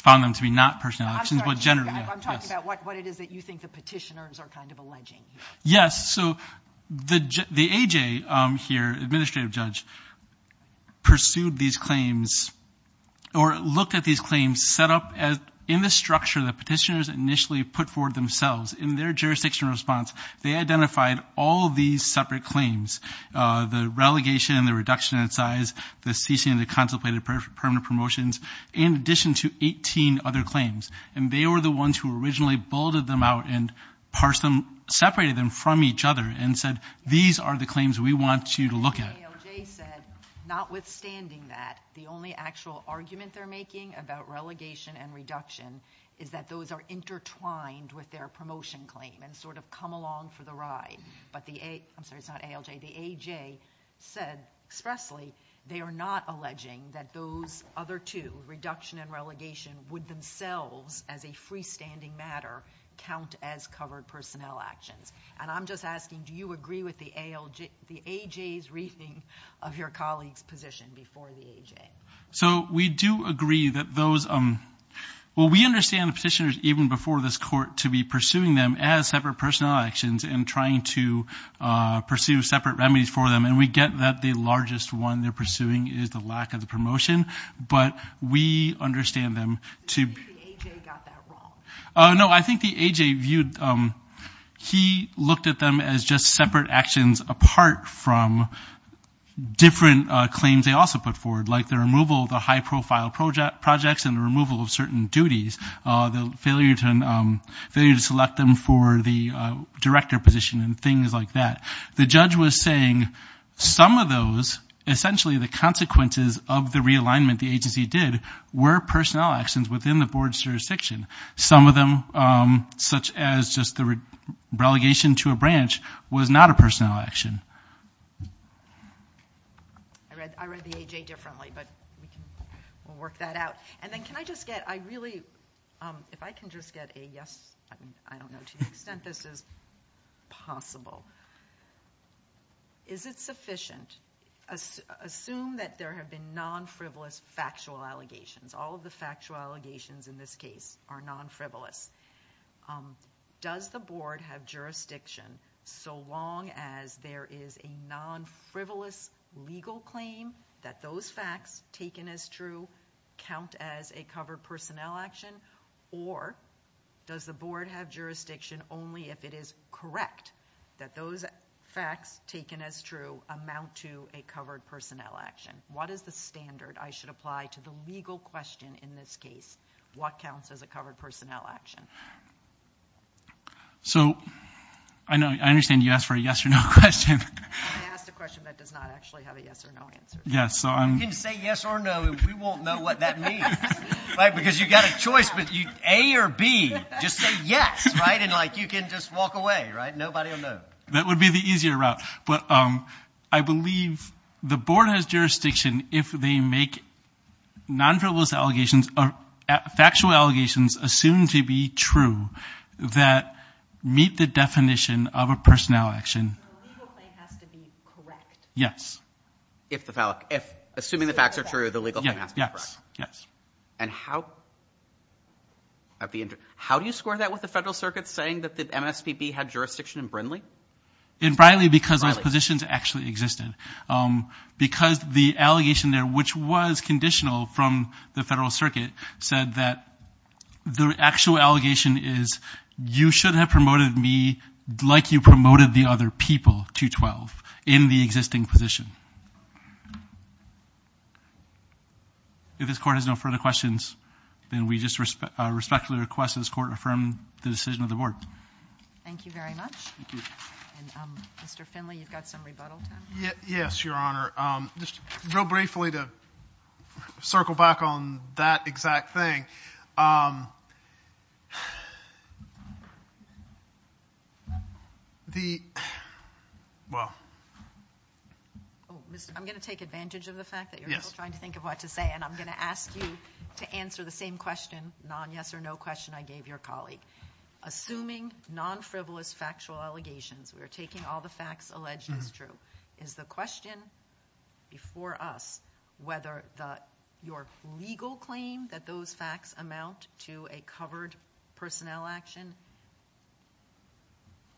found them to be not personnel actions, but generally. I'm talking about what it is that you think the petitioners are kind of alleging. Yes, so the AJ here, administrative judge, pursued these claims or looked at these claims set up in the structure that petitioners initially put forward themselves in their jurisdiction response. They identified all these separate claims, the relegation, the reduction in size, the ceasing of the contemplated permanent promotions, in addition to 18 other claims, and they were the ones who originally bulleted them out and separated them from each other and said these are the claims we want you to look at. The ALJ said notwithstanding that, the only actual argument they're making about relegation and reduction is that those are intertwined with their promotion claim and sort of come along for the ride. But the AJ said expressly they are not alleging that those other two, reduction and relegation, would themselves as a freestanding matter count as covered personnel actions. And I'm just asking do you agree with the AJ's reasoning of your colleague's position before the AJ? So we do agree that those, well, we understand the petitioners even before this court to be pursuing them as separate personnel actions and trying to pursue separate remedies for them, and we get that the largest one they're pursuing is the lack of the promotion, but we understand them to. The AJ got that wrong. No, I think the AJ viewed, he looked at them as just separate actions apart from different claims they also put forward like the removal of the high-profile projects and the removal of certain duties, the failure to select them for the director position and things like that. The judge was saying some of those, essentially the consequences of the realignment the agency did, were personnel actions within the board's jurisdiction. Some of them such as just the relegation to a branch was not a personnel action. I read the AJ differently, but we'll work that out. And then can I just get, I really, if I can just get a yes, I don't know to what extent this is possible. Is it sufficient, assume that there have been non-frivolous factual allegations, all of the factual allegations in this case are non-frivolous. Does the board have jurisdiction so long as there is a non-frivolous legal claim that those facts taken as true count as a covered personnel action, or does the board have jurisdiction only if it is correct that those facts taken as true amount to a covered personnel action? What is the standard I should apply to the legal question in this case? What counts as a covered personnel action? So I understand you asked for a yes or no question. I asked a question that does not actually have a yes or no answer. You can say yes or no, and we won't know what that means. Because you've got a choice between A or B. Just say yes, and you can just walk away. Nobody will know. That would be the easier route. But I believe the board has jurisdiction if they make non-frivolous allegations or factual allegations assumed to be true that meet the definition of a personnel action. The legal claim has to be correct. Yes. Assuming the facts are true, the legal claim has to be correct. Yes. And how do you score that with the Federal Circuit saying that the MSPB had jurisdiction in Brindley? In Brindley, because those positions actually existed. Because the allegation there, which was conditional from the Federal Circuit, said that the actual allegation is you shouldn't have promoted me like you promoted the other people, 212, in the existing position. If this Court has no further questions, then we just respect the request of this Court to affirm the decision of the Board. Thank you very much. Thank you. And Mr. Finley, you've got some rebuttals? Yes, Your Honor. Just real briefly to circle back on that exact thing. I'm going to take advantage of the fact that you're trying to think of what to say, and I'm going to ask you to answer the same question, the non-yes-or-no question I gave your colleague. Assuming non-frivolous factual allegations, we're taking all the facts alleged as true, is the question before us whether your legal claim that those facts amount to a covered personnel action?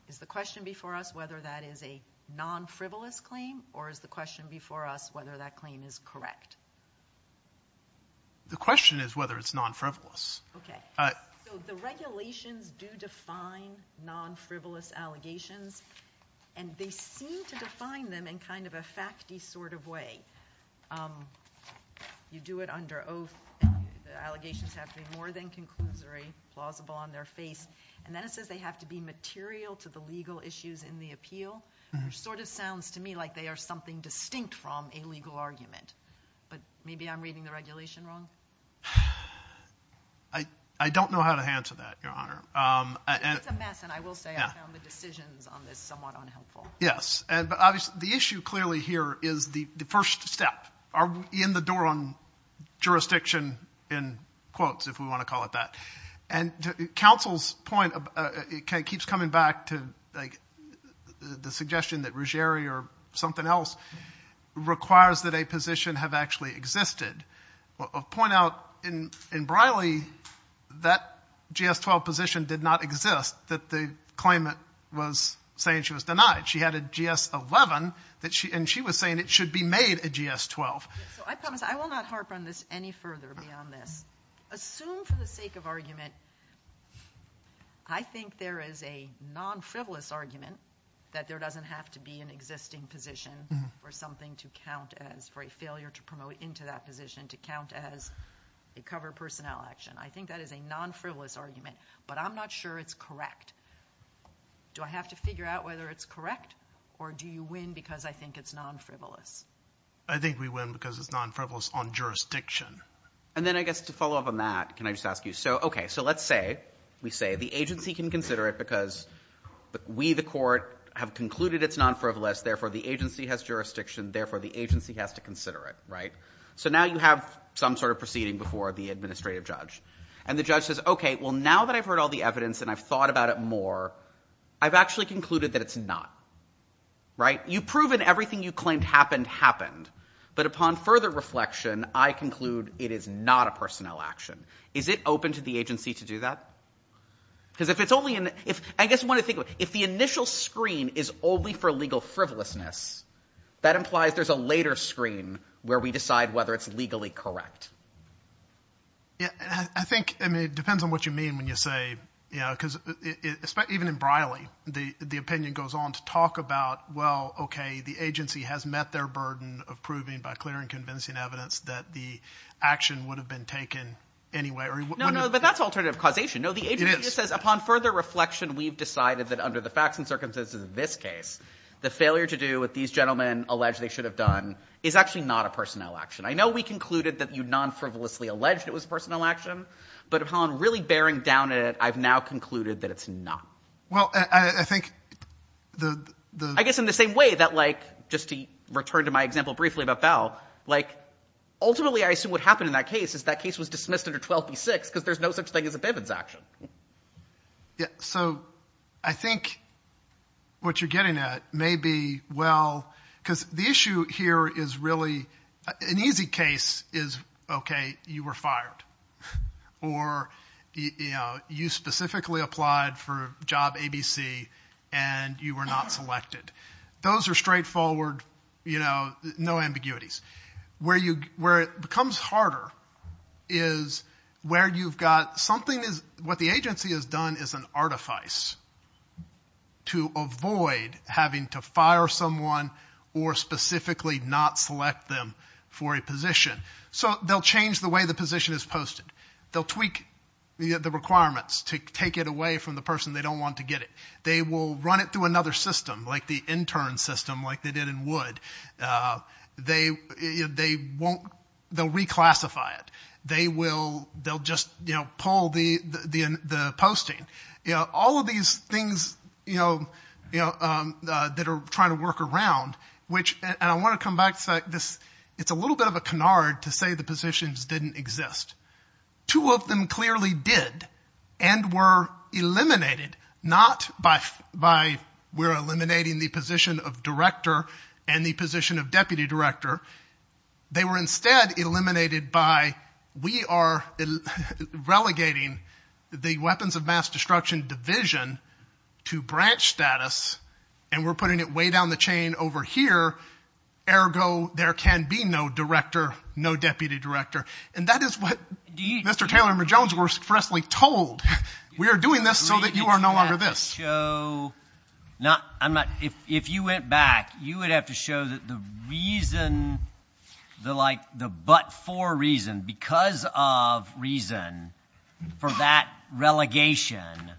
Is the question before us whether that is a non-frivolous claim, or is the question before us whether that claim is correct? The question is whether it's non-frivolous. Okay. So the regulations do define non-frivolous allegations, and they seem to define them in kind of a fact-y sort of way. You do it under oath. The allegations have to be more than conclusory, plausible on their face. And that says they have to be material to the legal issues in the appeal. It sort of sounds to me like they are something distinct from a legal argument. Maybe I'm reading the regulation wrong. I don't know how to answer that, Your Honor. It's a mess, and I will say I found the decisions on this somewhat unhelpful. Yes. But the issue clearly here is the first step. Are we in the door on jurisdiction in quotes, if we want to call it that? Counsel's point keeps coming back to the suggestion that Ruggieri or something else requires that a position have actually existed. I'll point out in Briley that GS-12 position did not exist, that the claimant was saying she was denied. She had a GS-11, and she was saying it should be made a GS-12. I promise I will not harp on this any further beyond that. Assume for the sake of argument, I think there is a non-frivolous argument that there doesn't have to be an existing position for something to count as, for a failure to promote into that position to count as a covered personnel action. I think that is a non-frivolous argument, but I'm not sure it's correct. Do I have to figure out whether it's correct, or do you win because I think it's non-frivolous? I think we win because it's non-frivolous on jurisdiction. And then I guess to follow up on that, can I just ask you, so okay, so let's say we say the agency can consider it because we the court have concluded it's non-frivolous, therefore the agency has jurisdiction, therefore the agency has to consider it, right? So now you have some sort of proceeding before the administrative judge, and the judge says, okay, well now that I've heard all the evidence and I've thought about it more, I've actually concluded that it's not, right? You've proven everything you claimed happened happened, but upon further reflection, I conclude it is not a personnel action. Is it open to the agency to do that? Because if it's only – I guess I want to think about it. If the initial screen is only for legal frivolousness, that implies there's a later screen where we decide whether it's legally correct. I think – I mean it depends on what you mean when you say – because even in Briley the opinion goes on to talk about, well, okay, the agency has met their burden of proving by clear and convincing evidence that the action would have been taken anyway. No, no, but that's alternative causation. No, the agency just says upon further reflection, we've decided that under the facts and circumstances of this case, the failure to do what these gentlemen alleged they should have done is actually not a personnel action. I know we concluded that you non-frivolously alleged it was personnel action, but upon really bearing down on it, I've now concluded that it's not. Well, I think the – yet, just to return to my example briefly about Bell, like ultimately I assume what happened in that case is that case was dismissed under 12B-6 because there's no such thing as a payments action. Yeah, so I think what you're getting at may be well – because the issue here is really – an easy case is, okay, you were fired, or you specifically applied for a job ABC and you were not selected. Those are straightforward, you know, no ambiguities. Where it becomes harder is where you've got something – what the agency has done is an artifice to avoid having to fire someone or specifically not select them for a position. So they'll change the way the position is posted. They'll tweak the requirements to take it away from the person they don't want to get it. They will run it through another system, like the intern system, like they did in Wood. They won't – they'll reclassify it. They will – they'll just, you know, pull the posting. You know, all of these things, you know, that are trying to work around, which – and I want to come back to this. It's a little bit of a canard to say the positions didn't exist. Two of them clearly did and were eliminated, not by we're eliminating the position of director and the position of deputy director. They were instead eliminated by we are relegating the weapons of mass destruction division to branch status, and we're putting it way down the chain over here, ergo there can be no director, no deputy director. And that is what Mr. Taylor and Mr. Jones were stressfully told. We are doing this so that you are no longer this. If you went back, you would have to show that the reason, the like the but for reason, because of reason for that relegation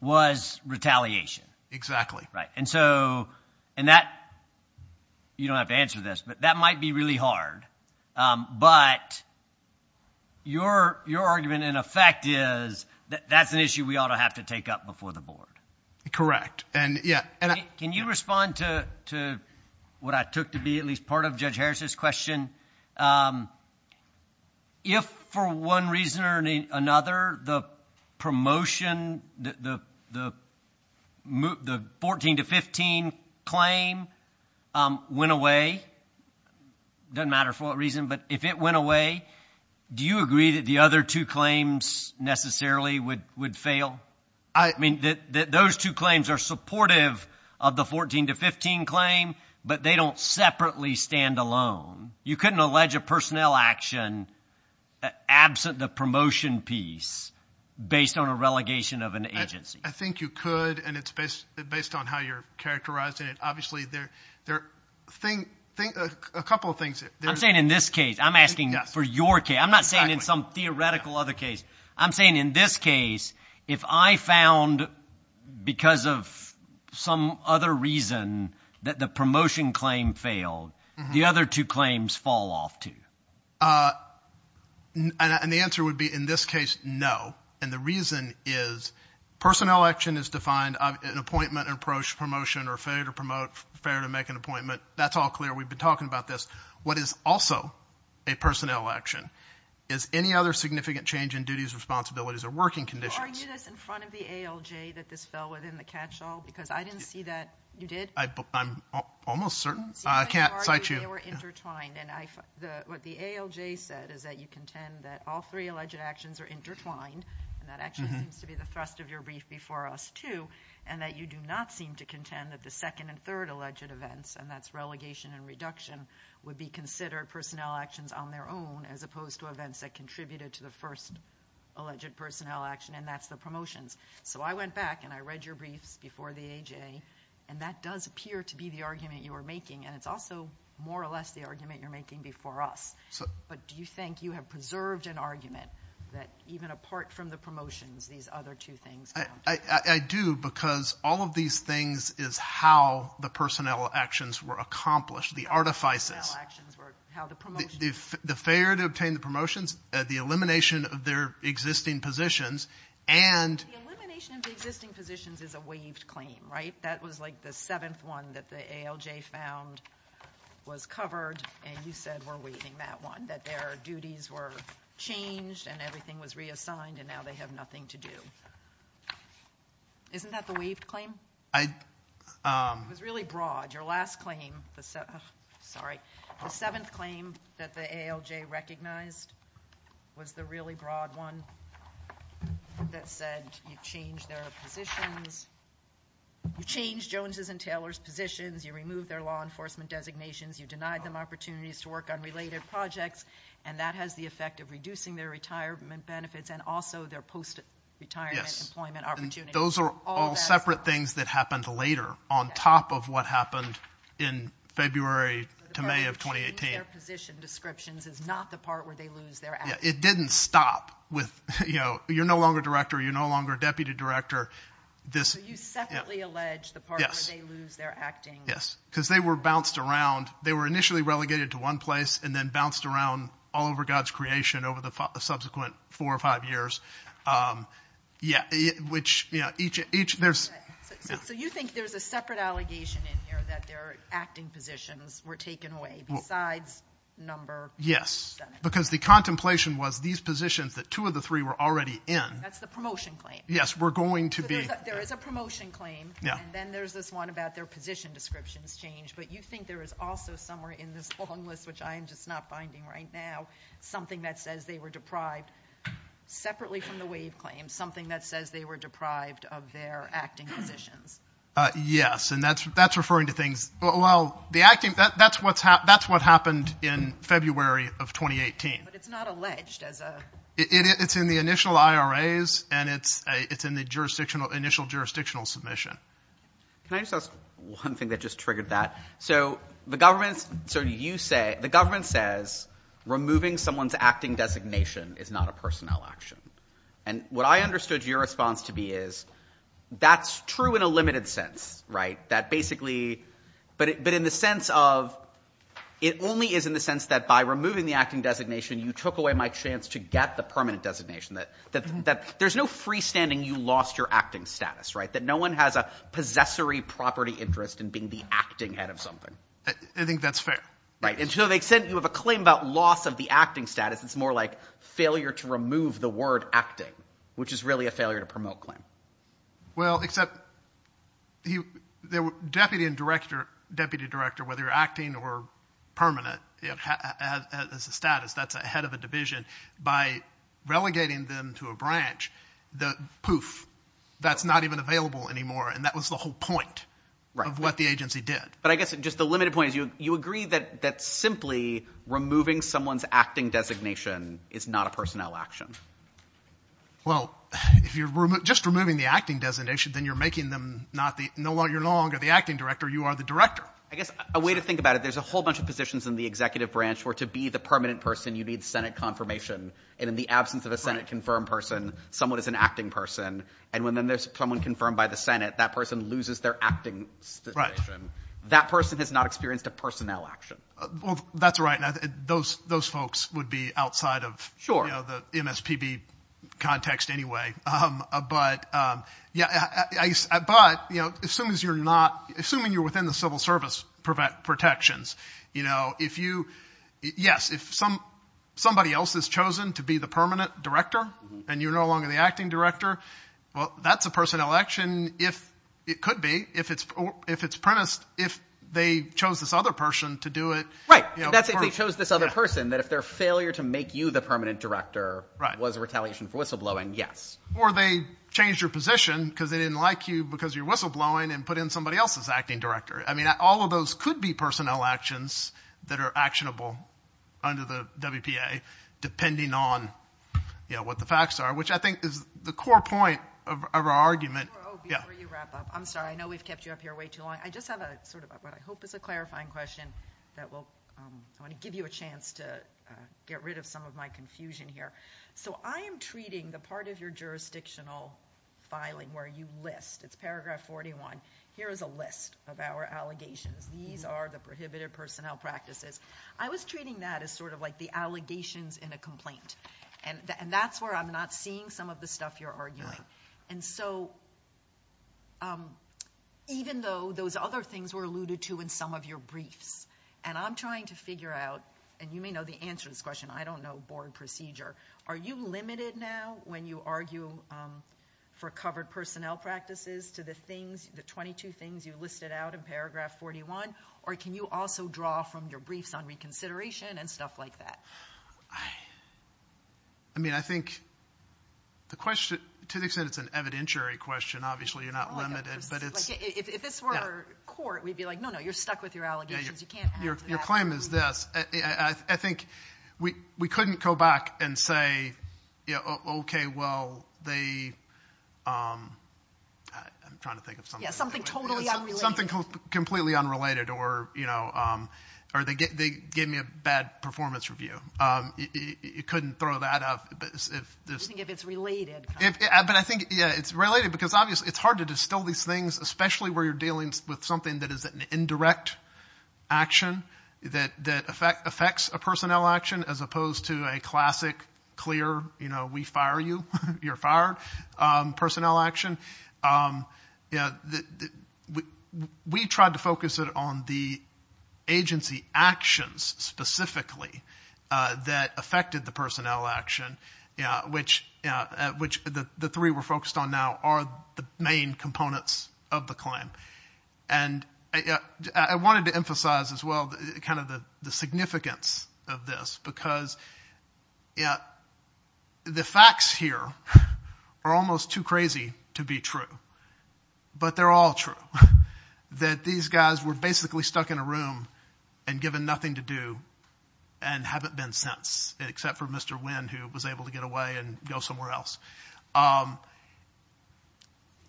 was retaliation. Exactly. Right. And so – and that – you don't have to answer this, but that might be really hard. But your argument in effect is that that's an issue we ought to have to take up before the board. Correct. Can you respond to what I took to be at least part of Judge Harris's question? If for one reason or another the promotion, the 14 to 15 claim went away, doesn't matter for what reason, but if it went away, do you agree that the other two claims necessarily would fail? I mean, those two claims are supportive of the 14 to 15 claim, but they don't separately stand alone. You couldn't allege a personnel action absent the promotion piece based on a relegation of an agency. I think you could, and it's based on how you're characterizing it. Obviously, there are a couple of things. I'm saying in this case. I'm asking for your case. I'm not saying in some theoretical other case. I'm saying in this case, if I found because of some other reason that the promotion claim failed, the other two claims fall off, too. And the answer would be in this case, no. And the reason is personnel action is defined as an appointment and approach promotion or failure to promote, failure to make an appointment. That's all clear. We've been talking about this. What is also a personnel action is any other significant change in duties, responsibilities, or working conditions. Are you just in front of the ALJ that this fell within the catch-all? Because I didn't see that. You did? I'm almost certain. I can't cite you. They were intertwined. And what the ALJ said is that you contend that all three alleged actions are intertwined, and that actually seems to be the thrust of your brief before us, too, and that you do not seem to contend that the second and third alleged events, and that's relegation and reduction, would be considered personnel actions on their own as opposed to events that contributed to the first alleged personnel action, and that's the promotions. So I went back and I read your brief before the ALJ, and that does appear to be the argument you were making, and it's also more or less the argument you're making before us. But do you think you have preserved an argument that even apart from the promotions, these other two things? I do, because all of these things is how the personnel actions were accomplished, the artifices. How the promotions were accomplished. The failure to obtain the promotions, the elimination of their existing positions. The elimination of the existing positions is a waived claim, right? That was like the seventh one that the ALJ found was covered, and you said we're waiving that one, that their duties were changed and everything was reassigned and now they have nothing to do. Isn't that the waived claim? It was really broad. And your last claim, sorry, the seventh claim that the ALJ recognized was the really broad one that said you changed their positions. You changed Jones' and Taylor's positions. You removed their law enforcement designations. You denied them opportunities to work on related projects, and that has the effect of reducing their retirement benefits and also their post-retirement employment opportunities. Those are all separate things that happened later on top of what happened in February to May of 2018. Changing their position descriptions is not the part where they lose their acting. It didn't stop with you're no longer director, you're no longer deputy director. You separately allege the part where they lose their acting. Yes, because they were bounced around. They were initially relegated to one place and then bounced around all over God's creation over the subsequent four or five years, which each there's – So you think there's a separate allegation in here that their acting positions were taken away besides number – Yes, because the contemplation was these positions that two of the three were already in – That's the promotion claim. Yes, we're going to be – There is a promotion claim, and then there's this one about their position descriptions change, but you think there is also somewhere in this long list, which I am just not finding right now, something that says they were deprived separately from the waive claim, something that says they were deprived of their acting positions. Yes, and that's referring to things – Well, the acting – That's what happened in February of 2018. But it's not alleged as a – It's in the initial IRAs, and it's in the initial jurisdictional submission. Can I just ask one thing that just triggered that? So the government says removing someone's acting designation is not a personnel action. And what I understood your response to be is that's true in a limited sense, that basically – But in the sense of it only is in the sense that by removing the acting designation, you took away my chance to get the permanent designation, that there's no freestanding you lost your acting status, that no one has a possessory property interest in being the acting head of something. I think that's fair. Right, and so they said you have a claim about loss of the acting status. It's more like failure to remove the word acting, which is really a failure to promote claim. Well, except deputy and director, whether you're acting or permanent as a status, that's a head of a division. By relegating them to a branch, poof, that's not even available anymore, and that was the whole point of what the agency did. But I guess just the limited point, you agree that simply removing someone's acting designation is not a personnel action. Well, if you're just removing the acting designation, then you're making them not the – you're no longer the acting director, you are the director. I guess a way to think about it, there's a whole bunch of positions in the executive branch where to be the permanent person you need Senate confirmation, and in the absence of a Senate-confirmed person, someone is an acting person, and when there's someone confirmed by the Senate, that person loses their acting position. That person has not experienced a personnel action. That's right. Those folks would be outside of the MSPB context anyway. But as soon as you're not – assuming you're within the civil service protections, if you – yes, if somebody else is chosen to be the permanent director and you're no longer the acting director, well, that's a personnel action if – it could be. If it's premised – if they chose this other person to do it. Right. That's if they chose this other person, that if their failure to make you the permanent director was a retaliation for whistleblowing, yes. Or they changed your position because they didn't like you because you're whistleblowing and put in somebody else as acting director. I mean, all of those could be personnel actions that are actionable under the WPA depending on what the facts are, which I think is the core point of our argument. Before you wrap up, I'm sorry. I know we've kept you up here way too long. I just have a sort of – I hope it's a clarifying question that will give you a chance to get rid of some of my confusion here. So I am treating the part of your jurisdictional filing where you list. It's paragraph 41. Here is a list of our allegations. These are the prohibited personnel practices. I was treating that as sort of like the allegations in a complaint. And that's where I'm not seeing some of the stuff you're arguing. And so even though those other things were alluded to in some of your briefs, and I'm trying to figure out – and you may know the answer to this question. I don't know board procedure. Are you limited now when you argue for covered personnel practices to the things, the 22 things you listed out in paragraph 41? Or can you also draw from your briefs on reconsideration and stuff like that? I mean, I think the question – to an extent, it's an evidentiary question. Obviously, you're not limited. If it's for court, we'd be like, no, no, you're stuck with your allegations. Your claim is this. I think we couldn't go back and say, okay, well, they – I'm trying to think of something. Yeah, something totally unrelated. Something completely unrelated or they gave me a bad performance review. You couldn't throw that out. I think if it's related. But I think, yeah, it's related because obviously it's hard to distill these things, especially where you're dealing with something that is an indirect action that affects a personnel action as opposed to a classic, clear, you know, we fire you, you're fired personnel action. We tried to focus it on the agency actions specifically that affected the personnel action, which the three we're focused on now are the main components of the claim. And I wanted to emphasize as well kind of the significance of this because the facts here are almost too crazy to be true. But they're all true, that these guys were basically stuck in a room and given nothing to do and haven't been since, except for Mr. Wynn who was able to get away and go somewhere else.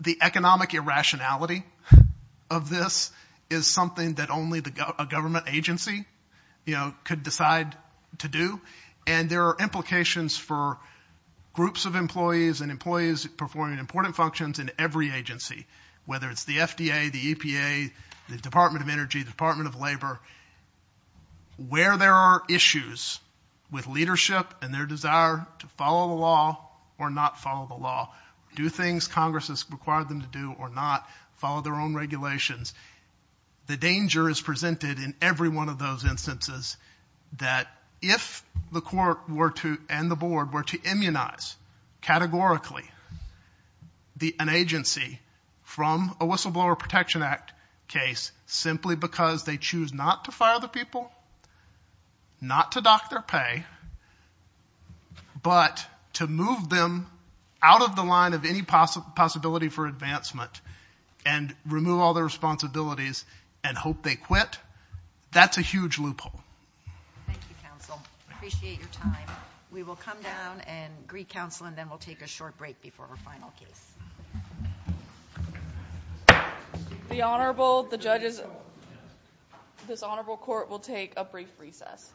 The economic irrationality of this is something that only a government agency, you know, should decide to do. And there are implications for groups of employees and employees performing important functions in every agency, whether it's the FDA, the EPA, the Department of Energy, Department of Labor, where there are issues with leadership and their desire to follow the law or not follow the law, do things Congress has required them to do or not, follow their own regulations. The danger is presented in every one of those instances that if the court were to and the board were to immunize categorically an agency from a Whistleblower Protection Act case simply because they choose not to file the people, not to dock their pay, but to move them out of the line of any possibility for advancement and remove all their responsibilities and hope they quit, that's a huge loophole. Thank you, counsel. I appreciate your time. We will come down and greet counsel and then we'll take a short break before our final case. The Honorable, the judges, this Honorable Court will take a brief recess.